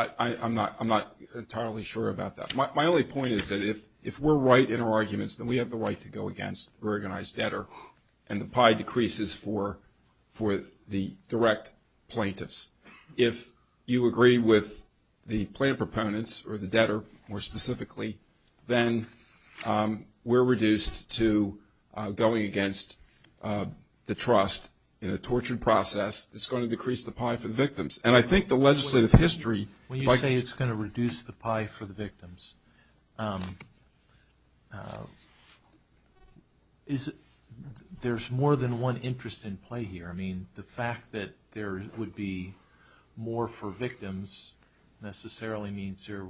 not entirely sure about that. My only point is that if we're right in our arguments, then we have the right to go against reorganized debtor, and the pie decreases for the direct plaintiffs. If you agree with the plaintiff proponents or the debtor more specifically, then we're reduced to going against the trust in a tortured process. It's going to decrease the pie for the victims. And I think the legislative history – When you say it's going to reduce the pie for the victims, there's more than one interest in play here. I mean, the fact that there would be more for victims necessarily means you're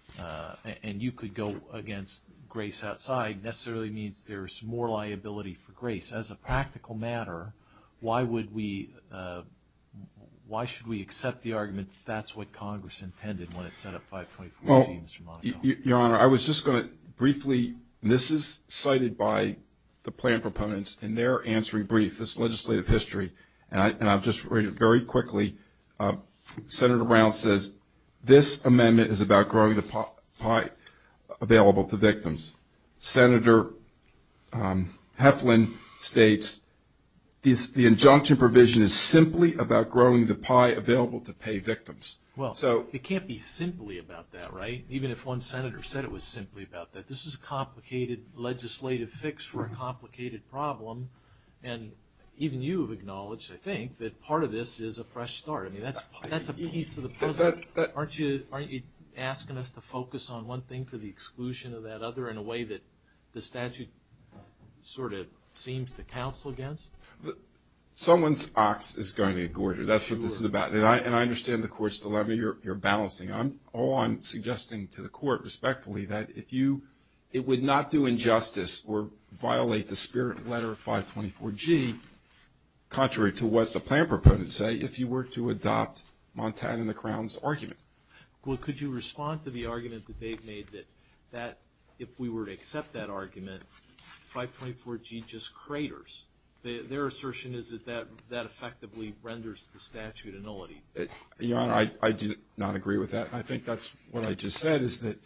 – and you could go against Grace outside necessarily means there's more liability for Grace. As a practical matter, why would we – why should we accept the argument that that's what Congress intended when it set up 5.14, Mr. Monahan? Well, Your Honor, I was just going to briefly – and I'll just read it very quickly. Senator Brown says, This amendment is about growing the pie available to victims. Senator Heflin states, The injunction provision is simply about growing the pie available to pay victims. Well, it can't be simply about that, right? Even if one senator said it was simply about that. This is a complicated legislative fix for a complicated problem, and even you have acknowledged, I think, that part of this is a fresh start. I mean, that's a piece of the puzzle. Aren't you asking us to focus on one thing for the exclusion of that other in a way that the statute sort of seems to counsel against? Someone's ox is going to be gored. That's what this is about. And I understand the Court's dilemma. You're balancing. All I'm suggesting to the Court, respectfully, that if you – it would not do injustice or violate the spirit and letter of 524G, contrary to what the plan proponents say, if you were to adopt Montan and the Crown's argument. Well, could you respond to the argument that they've made, that if we were to accept that argument, 524G just craters? Their assertion is that that effectively renders the statute annullity. Your Honor, I do not agree with that. I think that's what I just said, is that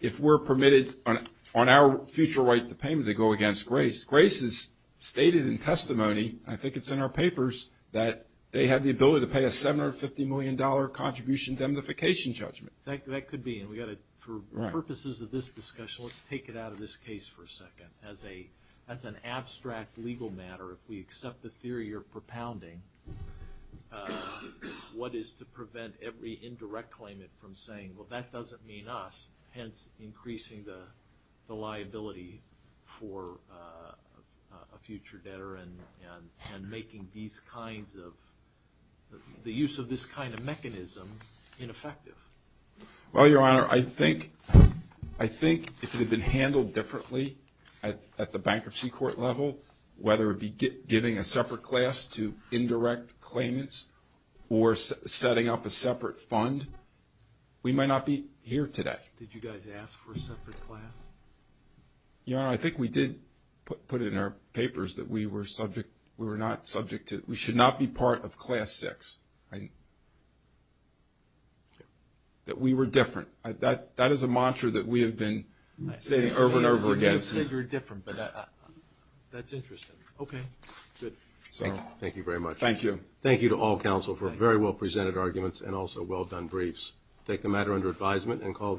if we're permitted on our future right to payment to go against Grace, Grace has stated in testimony, I think it's in our papers, that they have the ability to pay a $750 million contribution indemnification judgment. That could be. For purposes of this discussion, let's take it out of this case for a second. As an abstract legal matter, if we accept the theory you're propounding, what is to prevent every indirect claimant from saying, well, that doesn't mean us, hence increasing the liability for a future debtor and making these kinds of – the use of this kind of mechanism ineffective? Well, Your Honor, I think if it had been handled differently at the bankruptcy court level, whether it be giving a separate class to indirect claimants or setting up a separate fund, we might not be here today. Did you guys ask for a separate class? Your Honor, I think we did put it in our papers that we were subject – we were not subject to – we should not be part of Class VI. But we were different. That is a mantra that we have been saying over and over again. You said you were different, but that's interesting. Okay. Good. Thank you very much. Thank you. Thank you to all counsel for very well-presented arguments and also well-done briefs. Take the matter under advisement and call the –